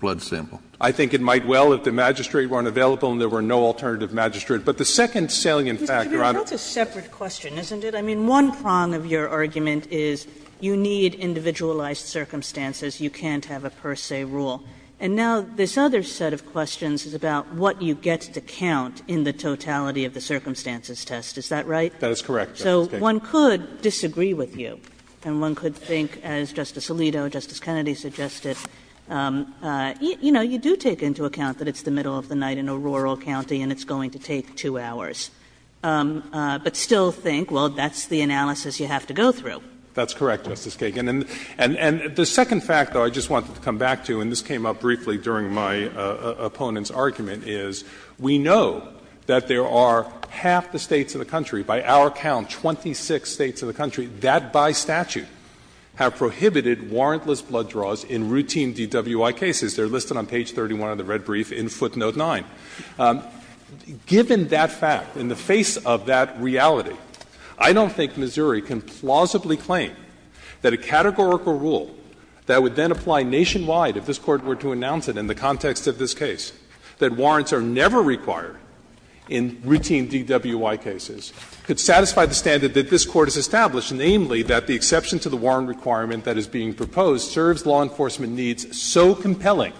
blood sample? I think it might well if the magistrate weren't available and there were no alternative magistrate. But the second salient factor, I don't think that's a separate question, isn't it? I mean, one prong of your argument is you need individualized circumstances. You can't have a per se rule. And now this other set of questions is about what you get to count in the totality of the circumstances test. Is that right? That is correct, Justice Kagan. So one could disagree with you. And one could think, as Justice Alito, Justice Kennedy suggested, you know, you do take into account that it's the middle of the night in a rural county and it's going to take two hours. But still think, well, that's the analysis you have to go through. That's correct, Justice Kagan. And the second fact, though, I just wanted to come back to, and this came up briefly during my opponent's argument, is we know that there are half the States of the country, by our count, 26 States of the country, that by statute have prohibited warrantless blood draws in routine DWI cases. They are listed on page 31 of the red brief in footnote 9. Given that fact, in the face of that reality, I don't think Missouri can plausibly claim that a categorical rule that would then apply nationwide if this Court were to announce it in the context of this case, that warrants are never required in routine DWI cases. It could satisfy the standard that this Court has established, namely that the exception to the warrant requirement that is being proposed serves law enforcement needs so compelling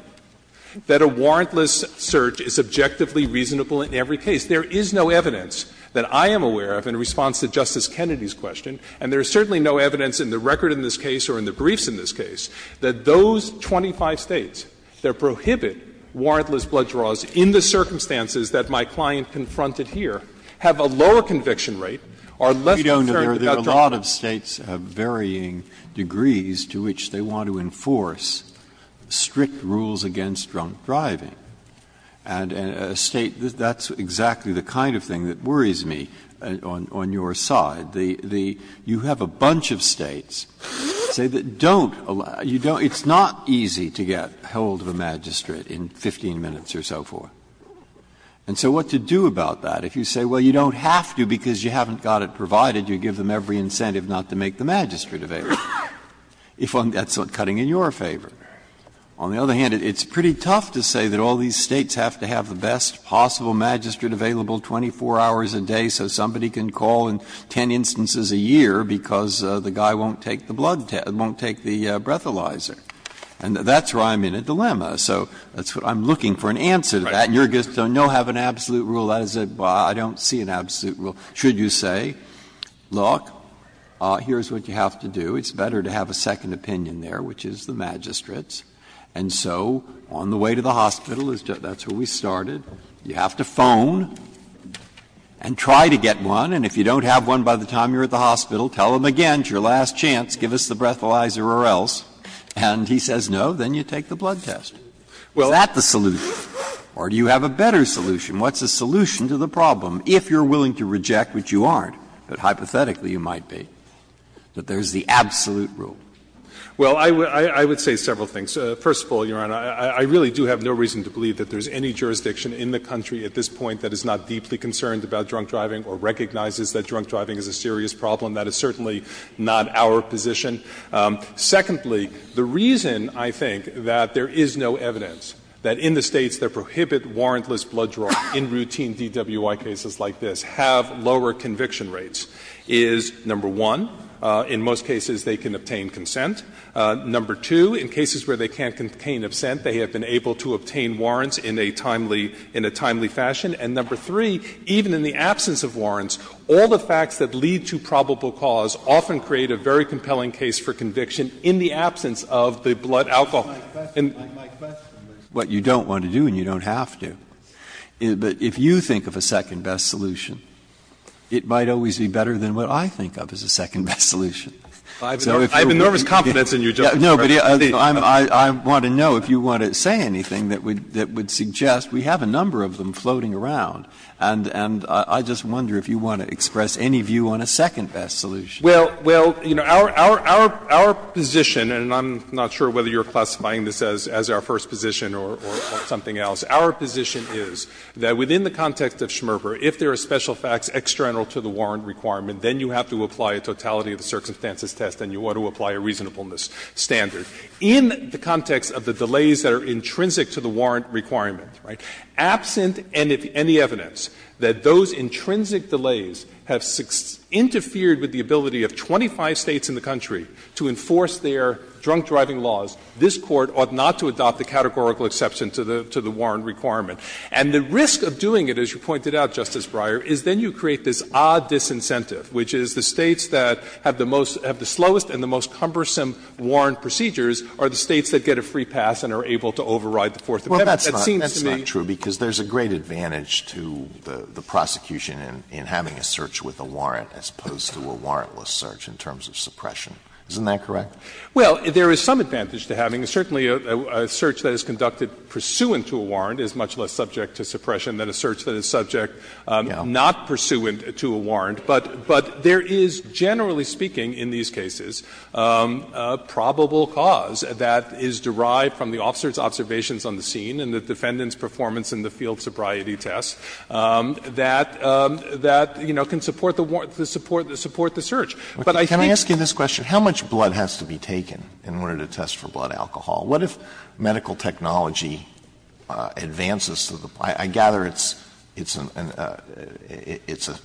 that a warrantless search is objectively reasonable in every case. There is no evidence that I am aware of in response to Justice Kennedy's question, and there is certainly no evidence in the record in this case or in the briefs in this case, that those 25 States that prohibit warrantless blood draws in the circumstances that my client confronted here have a lower conviction rate, are less concerned Breyer, there are a lot of States of varying degrees to which they want to enforce strict rules against drunk driving. And a State that's exactly the kind of thing that worries me on your side, the you have a bunch of States say that don't allow, it's not easy to get hold of a magistrate in 15 minutes or so forth. And so what to do about that? If you say, well, you don't have to because you haven't got it provided, you give them every incentive not to make the magistrate available. If that's not cutting in your favor. On the other hand, it's pretty tough to say that all these States have to have the best possible magistrate available 24 hours a day so somebody can call in 10 instances a year because the guy won't take the blood test, won't take the breathalyzer. And that's where I'm in a dilemma. So I'm looking for an answer to that. Breyer, you're going to say, no, I have an absolute rule, I don't see an absolute rule. Should you say, look, here's what you have to do, it's better to have a second opinion there, which is the magistrate's, and so on the way to the hospital, that's where we started, you have to phone and try to get one, and if you don't have one by the time you're at the hospital, tell them again, it's your last chance, give us the breathalyzer or else, and he says no, then you take the blood test. Is that the solution? Or do you have a better solution? What's the solution to the problem, if you're willing to reject, which you aren't, but hypothetically you might be, that there's the absolute rule? Well, I would say several things. First of all, Your Honor, I really do have no reason to believe that there's any jurisdiction in the country at this point that is not deeply concerned about drunk driving or recognizes that drunk driving is a serious problem. That is certainly not our position. Secondly, the reason, I think, that there is no evidence that in the States that prohibit warrantless blood draw in routine DWI cases like this have lower conviction rates is, number one, in most cases they can obtain consent. Number two, in cases where they can't obtain consent, they have been able to obtain warrants in a timely fashion. And number three, even in the absence of warrants, all the facts that lead to probable cause often create a very compelling case for conviction in the absence of the blood alcohol. And my question is what you don't want to do and you don't have to, but if you think of a second-best solution, it might always be better than what I think of as a second-best So if you're willing to give me a second-best solution, I'm willing to give you a second-best Breyer, I have a nervous confidence in you, Justice Breyer. No, but I want to know if you want to say anything that would suggest we have a number of them floating around, and I just wonder if you want to express any view on a second-best solution. Well, you know, our position, and I'm not sure whether you're classifying this as our first position or something else, our position is that within the context of Schmerber, if there are special facts external to the warrant requirement, then you have to apply a totality of the circumstances test and you ought to apply a reasonableness standard. In the context of the delays that are intrinsic to the warrant requirement, right, absent any evidence that those intrinsic delays have interfered with the ability of 25 States in the country to enforce their drunk-driving laws, this Court ought not to adopt the categorical exception to the warrant requirement. And the risk of doing it, as you pointed out, Justice Breyer, is then you create this odd disincentive, which is the States that have the most — have the slowest and the most cumbersome warrant procedures are the States that get a free pass and are able to override the Fourth Amendment. That seems to me to be the case. Well, that's not true, because there's a great advantage to the prosecution in having a search with a warrant as opposed to a warrantless search in terms of suppression. Isn't that correct? Well, there is some advantage to having. Certainly a search that is conducted pursuant to a warrant is much less subject to suppression than a search that is subject not pursuant to a warrant. But there is, generally speaking, in these cases, a probable cause that is derived from the officer's observations on the scene and the defendant's performance in the field sobriety test that, you know, can support the search. But I think that's not true. Alito, can I ask you this question? How much blood has to be taken in order to test for blood alcohol? What if medical technology advances to the point — I gather it's a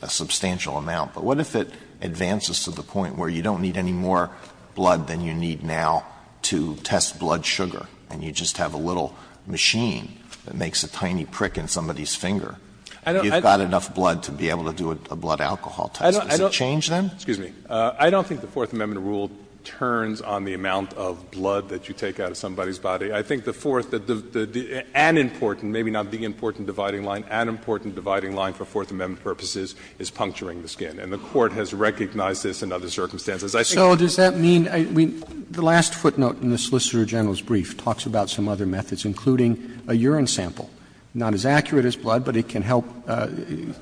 substantial amount — but what if it advances to the point where you don't need any more blood than you need now to test blood sugar, and you just have a little machine that makes a tiny prick in somebody's finger, and you've got enough blood to be able to do a blood alcohol test? Does it change then? Excuse me. I don't think the Fourth Amendment rule turns on the amount of blood that you take out of somebody's body. I think the Fourth — an important, maybe not the important dividing line, an important dividing line for Fourth Amendment purposes is puncturing the skin. And the Court has recognized this in other circumstances. I think the Court has recognized this in other circumstances. Roberts, so does that mean — I mean, the last footnote in the Solicitor General's brief talks about some other methods, including a urine sample. Not as accurate as blood, but it can help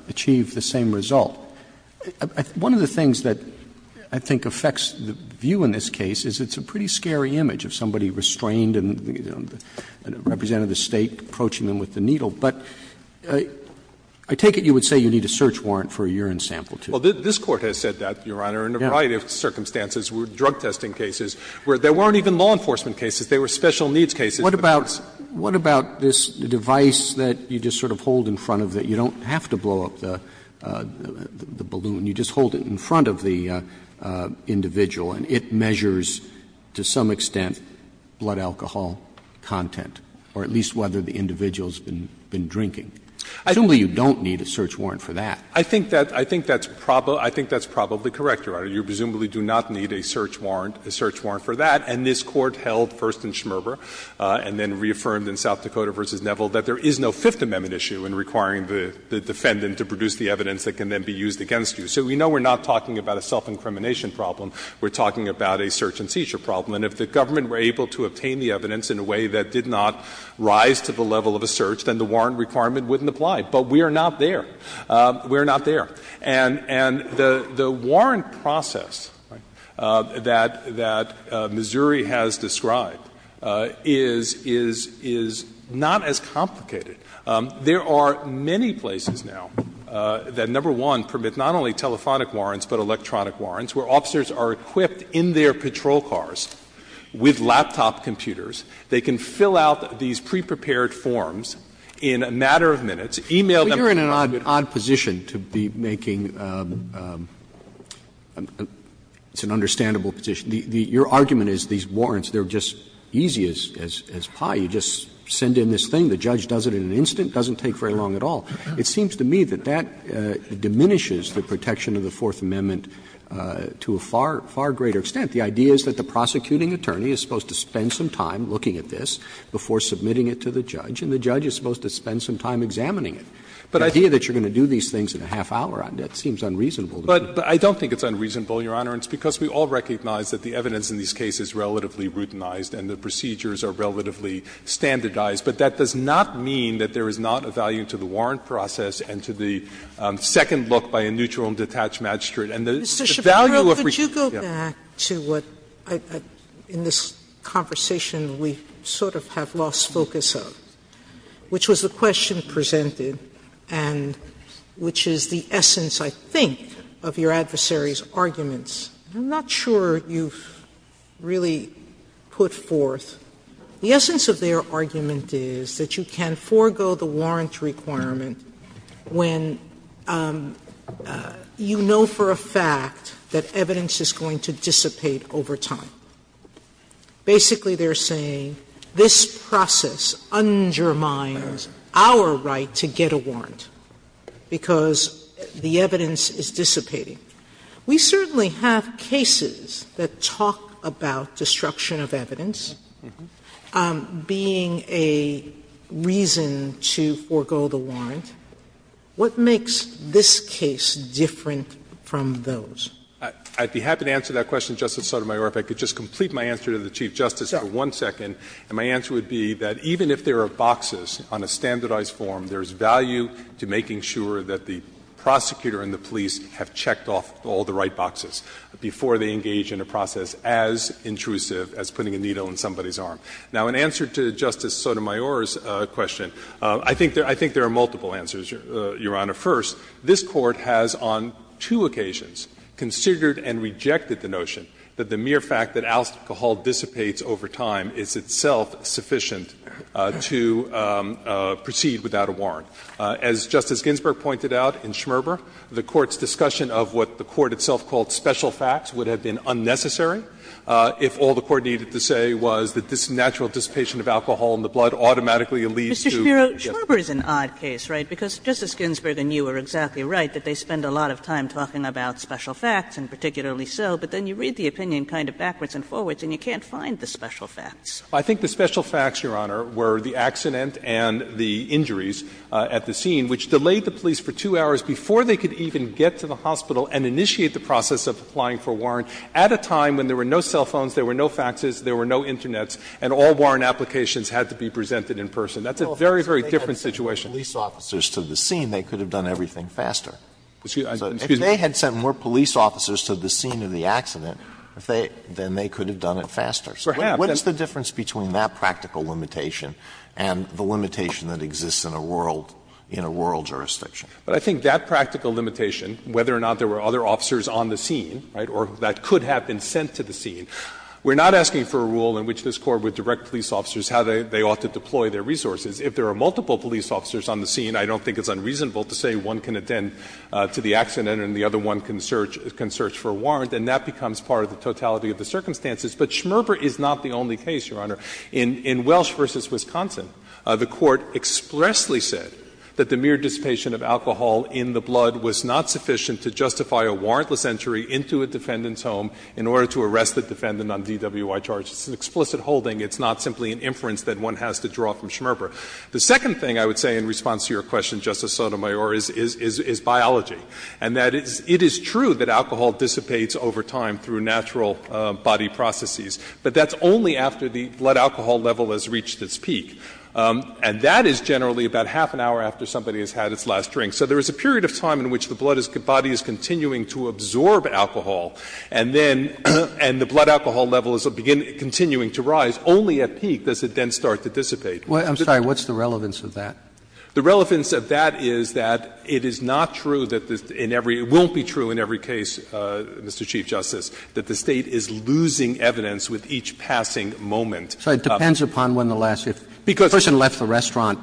achieve the same result. One of the things that I think affects the view in this case is it's a pretty scary image of somebody restrained and, you know, a representative of the State approaching them with the needle. But I take it you would say you need a search warrant for a urine sample, too. Well, this Court has said that, Your Honor, in a variety of circumstances. Drug testing cases where there weren't even law enforcement cases, there were special needs cases. What about — what about this device that you just sort of hold in front of the — you don't have to blow up the balloon. You just hold it in front of the individual and it measures, to some extent, blood alcohol content, or at least whether the individual's been drinking. Assumably, you don't need a search warrant for that. I think that's probably correct, Your Honor. You presumably do not need a search warrant, a search warrant for that. And this Court held first in Schmerber and then reaffirmed in South Dakota v. Neville that there is no Fifth Amendment issue in requiring the defendant to produce the evidence that can then be used against you. So we know we're not talking about a self-incrimination problem. We're talking about a search and seizure problem. And if the government were able to obtain the evidence in a way that did not rise to the level of a search, then the warrant requirement wouldn't apply. But we are not there. We are not there. And the warrant process that Missouri has described is not as complicated. There are many places now that, number one, permit not only telephonic warrants, but electronic warrants, where officers are equipped in their patrol cars with laptop computers. They can fill out these pre-prepared forms in a matter of minutes, e-mail them. Roberts, but you're in an odd position to be making an understandable position. Your argument is these warrants, they're just as easy as pie. You just send in this thing, the judge does it in an instant, doesn't take very long at all. It seems to me that that diminishes the protection of the Fourth Amendment to a far, far greater extent. The idea is that the prosecuting attorney is supposed to spend some time looking at this before submitting it to the judge, and the judge is supposed to spend some time examining it. The idea that you're going to do these things in a half hour on that seems unreasonable. But I don't think it's unreasonable, Your Honor, and it's because we all recognize that the evidence in these cases is relatively routinized and the procedures are relatively standardized. But that does not mean that there is not a value to the warrant process and to the second look by a neutral and detached magistrate. And the value of reading the case is not a value to the warrant process. Sotomayor, could you go back to what, in this conversation, we sort of have lost focus of, which was the question presented and which is the essence, I think, of your adversary's arguments. Sotomayor, I'm not sure you've really put forth. The essence of their argument is that you can forgo the warrant requirement when you know for a fact that evidence is going to dissipate over time. Basically, they're saying this process undermines our right to get a warrant because the evidence is dissipating. We certainly have cases that talk about destruction of evidence being a reason to forgo the warrant. What makes this case different from those? I'd be happy to answer that question, Justice Sotomayor, if I could just complete my answer to the Chief Justice for one second. And my answer would be that even if there are boxes on a standardized form, there is value to making sure that the prosecutor and the police have checked off all the right boxes before they engage in a process as intrusive as putting a needle in somebody's arm. Now, in answer to Justice Sotomayor's question, I think there are multiple answers, Your Honor. First, this Court has on two occasions considered and rejected the notion that the mere fact that alcohol dissipates over time is itself sufficient to proceed without a warrant. As Justice Ginsburg pointed out in Schmerber, the Court's discussion of what the Court itself called special facts would have been unnecessary if all the Court needed to say was that this natural dissipation of alcohol in the blood automatically leads to, yes. Kagan, Schmerber is an odd case, right? Because Justice Ginsburg and you were exactly right that they spend a lot of time talking about special facts and particularly so, but then you read the opinion kind of backwards and forwards and you can't find the special facts. I think the special facts, Your Honor, were the accident and the injuries at the scene, which delayed the police for two hours before they could even get to the hospital and initiate the process of applying for a warrant at a time when there were no cell phones, there were no faxes, there were no internets, and all warrant applications had to be presented in person. That's a very, very different situation. If they had sent police officers to the scene, they could have done everything faster. Excuse me? If they had sent more police officers to the scene of the accident, then they could have done it faster. Perhaps. Alito, what is the difference between that practical limitation and the limitation that exists in a rural, in a rural jurisdiction? But I think that practical limitation, whether or not there were other officers on the scene, right, or that could have been sent to the scene, we're not asking for a rule in which this Court would direct police officers how they ought to deploy their resources. If there are multiple police officers on the scene, I don't think it's unreasonable to say one can attend to the accident and the other one can search for a warrant, and that becomes part of the totality of the circumstances. But Schmerber is not the only case, Your Honor. In Welsh v. Wisconsin, the Court expressly said that the mere dissipation of alcohol in the blood was not sufficient to justify a warrantless entry into a defendant's home in order to arrest the defendant on DWI charges. It's an explicit holding. It's not simply an inference that one has to draw from Schmerber. The second thing I would say in response to your question, Justice Sotomayor, is biology, and that it is true that alcohol dissipates over time through natural body processes, but that's only after the blood alcohol level has reached its peak. And that is generally about half an hour after somebody has had its last drink. So there is a period of time in which the blood is the body is continuing to absorb alcohol, and then the blood alcohol level is continuing to rise. Only at peak does it then start to dissipate. Roberts. I'm sorry. What's the relevance of that? The relevance of that is that it is not true that this in every – it won't be true in every case, Mr. Chief Justice, that the State is losing evidence with each passing moment. Roberts. It depends upon when the last – if the person left the restaurant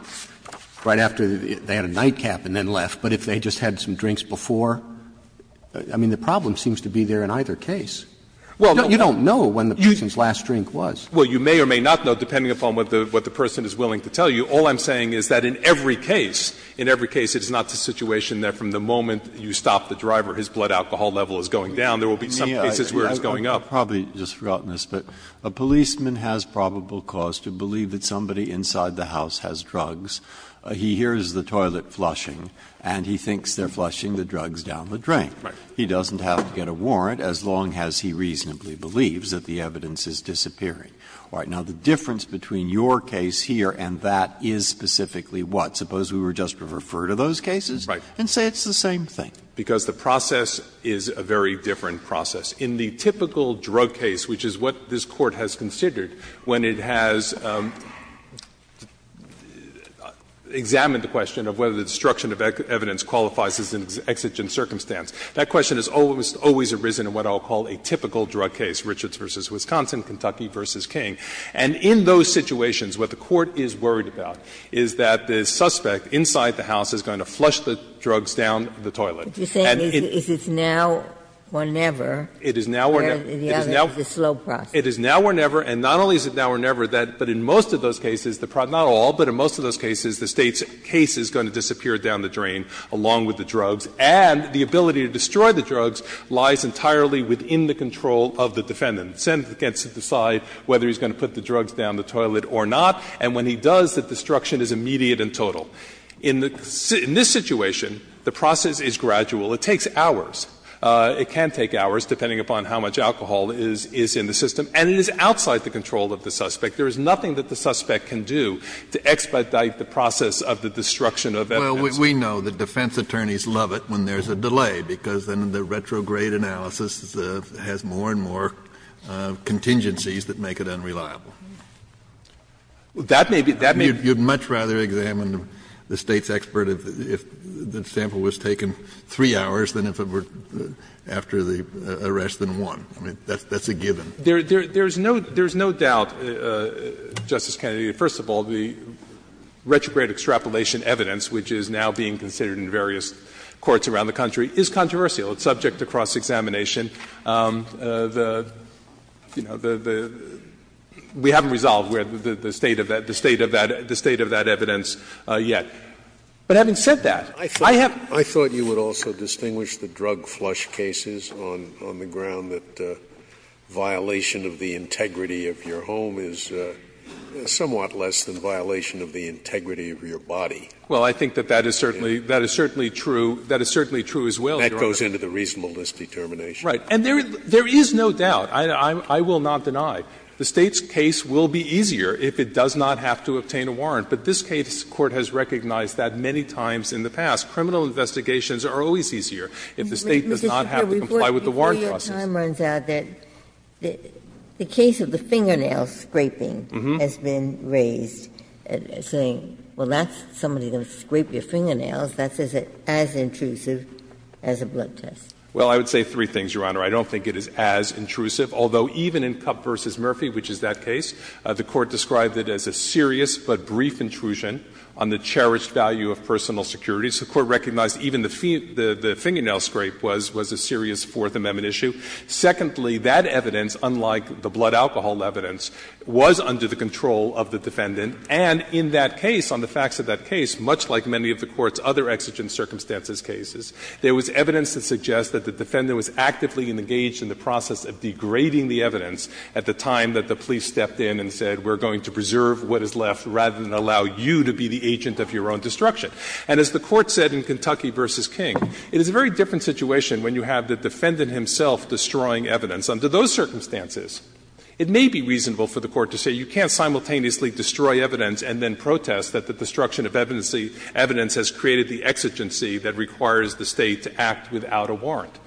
right after they had a nightcap and then left, but if they just had some drinks before. I mean, the problem seems to be there in either case. You don't know when the person's last drink was. Well, you may or may not know, depending upon what the person is willing to tell you. All I'm saying is that in every case, in every case, it is not the situation that from the moment you stop the driver, his blood alcohol level is going down. There will be some cases where it's going up. Breyer. I've probably just forgotten this, but a policeman has probable cause to believe that somebody inside the house has drugs. He hears the toilet flushing, and he thinks they're flushing the drugs down the drain. Right. He doesn't have to get a warrant as long as he reasonably believes that the evidence is disappearing. All right. Now, the difference between your case here and that is specifically what? Suppose we were just to refer to those cases? Right. And say it's the same thing. Because the process is a very different process. In the typical drug case, which is what this Court has considered when it has examined the question of whether the destruction of evidence qualifies as an exigent circumstance, that question has always, always arisen in what I'll call a typical drug case, Richards v. Wisconsin, Kentucky v. King. And in those situations, what the Court is worried about is that the suspect inside the house is going to flush the drugs down the toilet. And it's now or never. It is now or never. And the other is a slow process. It is now or never. And not only is it now or never, but in most of those cases, not all, but in most of those cases, the State's case is going to disappear down the drain, along with the drugs, and the ability to destroy the drugs lies entirely within the control of the defendant. The defendant gets to decide whether he's going to put the drugs down the toilet or not, and when he does, the destruction is immediate and total. In this situation, the process is gradual. It takes hours. It can take hours, depending upon how much alcohol is in the system. And it is outside the control of the suspect. There is nothing that the suspect can do to expedite the process of the destruction of evidence. Kennedy, we know that defense attorneys love it when there's a delay, because then the retrograde analysis has more and more contingencies that make it unreliable. That may be, that may be. You'd much rather examine the State's expert if the sample was taken 3 hours than if it were after the arrest than 1. I mean, that's a given. There's no doubt, Justice Kennedy, first of all, the retrograde extrapolation evidence, which is now being considered in various courts around the country, is controversial. It's subject to cross-examination. The, you know, the we haven't resolved the state of that evidence yet. But having said that, I have. Scalia, I thought you would also distinguish the drug flush cases on the ground that violation of the integrity of your home is somewhat less than violation of the integrity of your body. Well, I think that that is certainly true. That is certainly true as well, Your Honor. That goes into the reasonableness determination. And there is no doubt, I will not deny, the State's case will be easier if it does not have to obtain a warrant. But this case, the Court has recognized that many times in the past. Criminal investigations are always easier if the State does not have to comply with the warrant process. Ginsburg, before your time runs out, the case of the fingernail scraping has been raised, saying, well, that's somebody going to scrape your fingernails, that's as intrusive as a blood test. Well, I would say three things, Your Honor. I don't think it is as intrusive, although even in Cupp v. Murphy, which is that case, the Court described it as a serious but brief intrusion on the cherished value of personal security. So the Court recognized even the fingernail scrape was a serious Fourth Amendment issue. Secondly, that evidence, unlike the blood alcohol evidence, was under the control of the defendant. And in that case, on the facts of that case, much like many of the Court's other exigent circumstances cases, there was evidence that suggests that the defendant was actively engaged in the process of degrading the evidence at the time that the police stepped in and said we're going to preserve what is left rather than allow you to be the agent of your own destruction. And as the Court said in Kentucky v. King, it is a very different situation when you have the defendant himself destroying evidence under those circumstances. It may be reasonable for the Court to say you can't simultaneously destroy evidence and then protest that the destruction of evidence has created the exigency that requires the State to act without a warrant.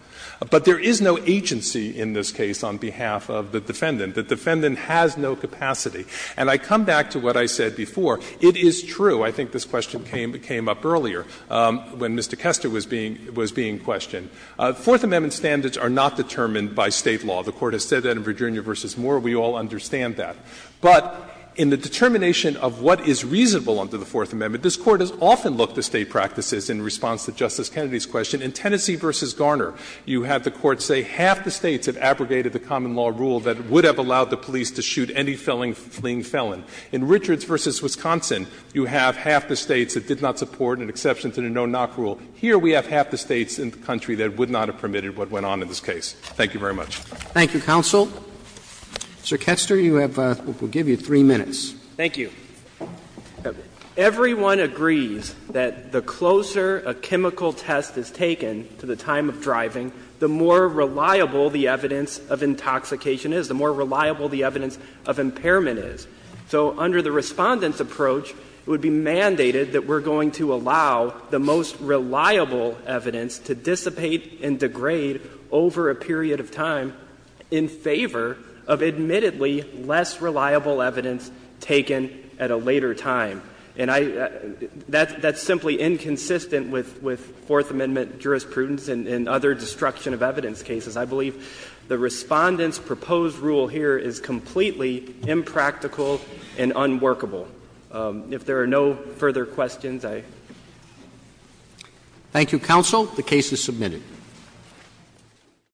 But there is no agency in this case on behalf of the defendant. The defendant has no capacity. And I come back to what I said before. It is true, I think this question came up earlier, when Mr. Kester was being questioned. Fourth Amendment standards are not determined by State law. The Court has said that in Virginia v. Moore, we all understand that. But in the determination of what is reasonable under the Fourth Amendment, this Court has often looked at State practices in response to Justice Kennedy's question. In Tennessee v. Garner, you have the Court say half the States have abrogated the common law rule that would have allowed the police to shoot any fleeing felon. In Richards v. Wisconsin, you have half the States that did not support an exception to the no-knock rule. Here we have half the States in the country that would not have permitted what went on in this case. Thank you very much. Roberts. Thank you, counsel. Mr. Kester, you have, we'll give you three minutes. Thank you. Everyone agrees that the closer a chemical test is taken to the time of driving, the more reliable the evidence of intoxication is, the more reliable the evidence of impairment is. So under the Respondent's approach, it would be mandated that we're going to allow the most reliable evidence to dissipate and degrade over a period of time in favor of admittedly less reliable evidence taken at a later time. And I, that's simply inconsistent with Fourth Amendment jurisprudence and other destruction of evidence cases. I believe the Respondent's proposed rule here is completely impractical and unworkable. If there are no further questions, I. Thank you, counsel. The case is submitted.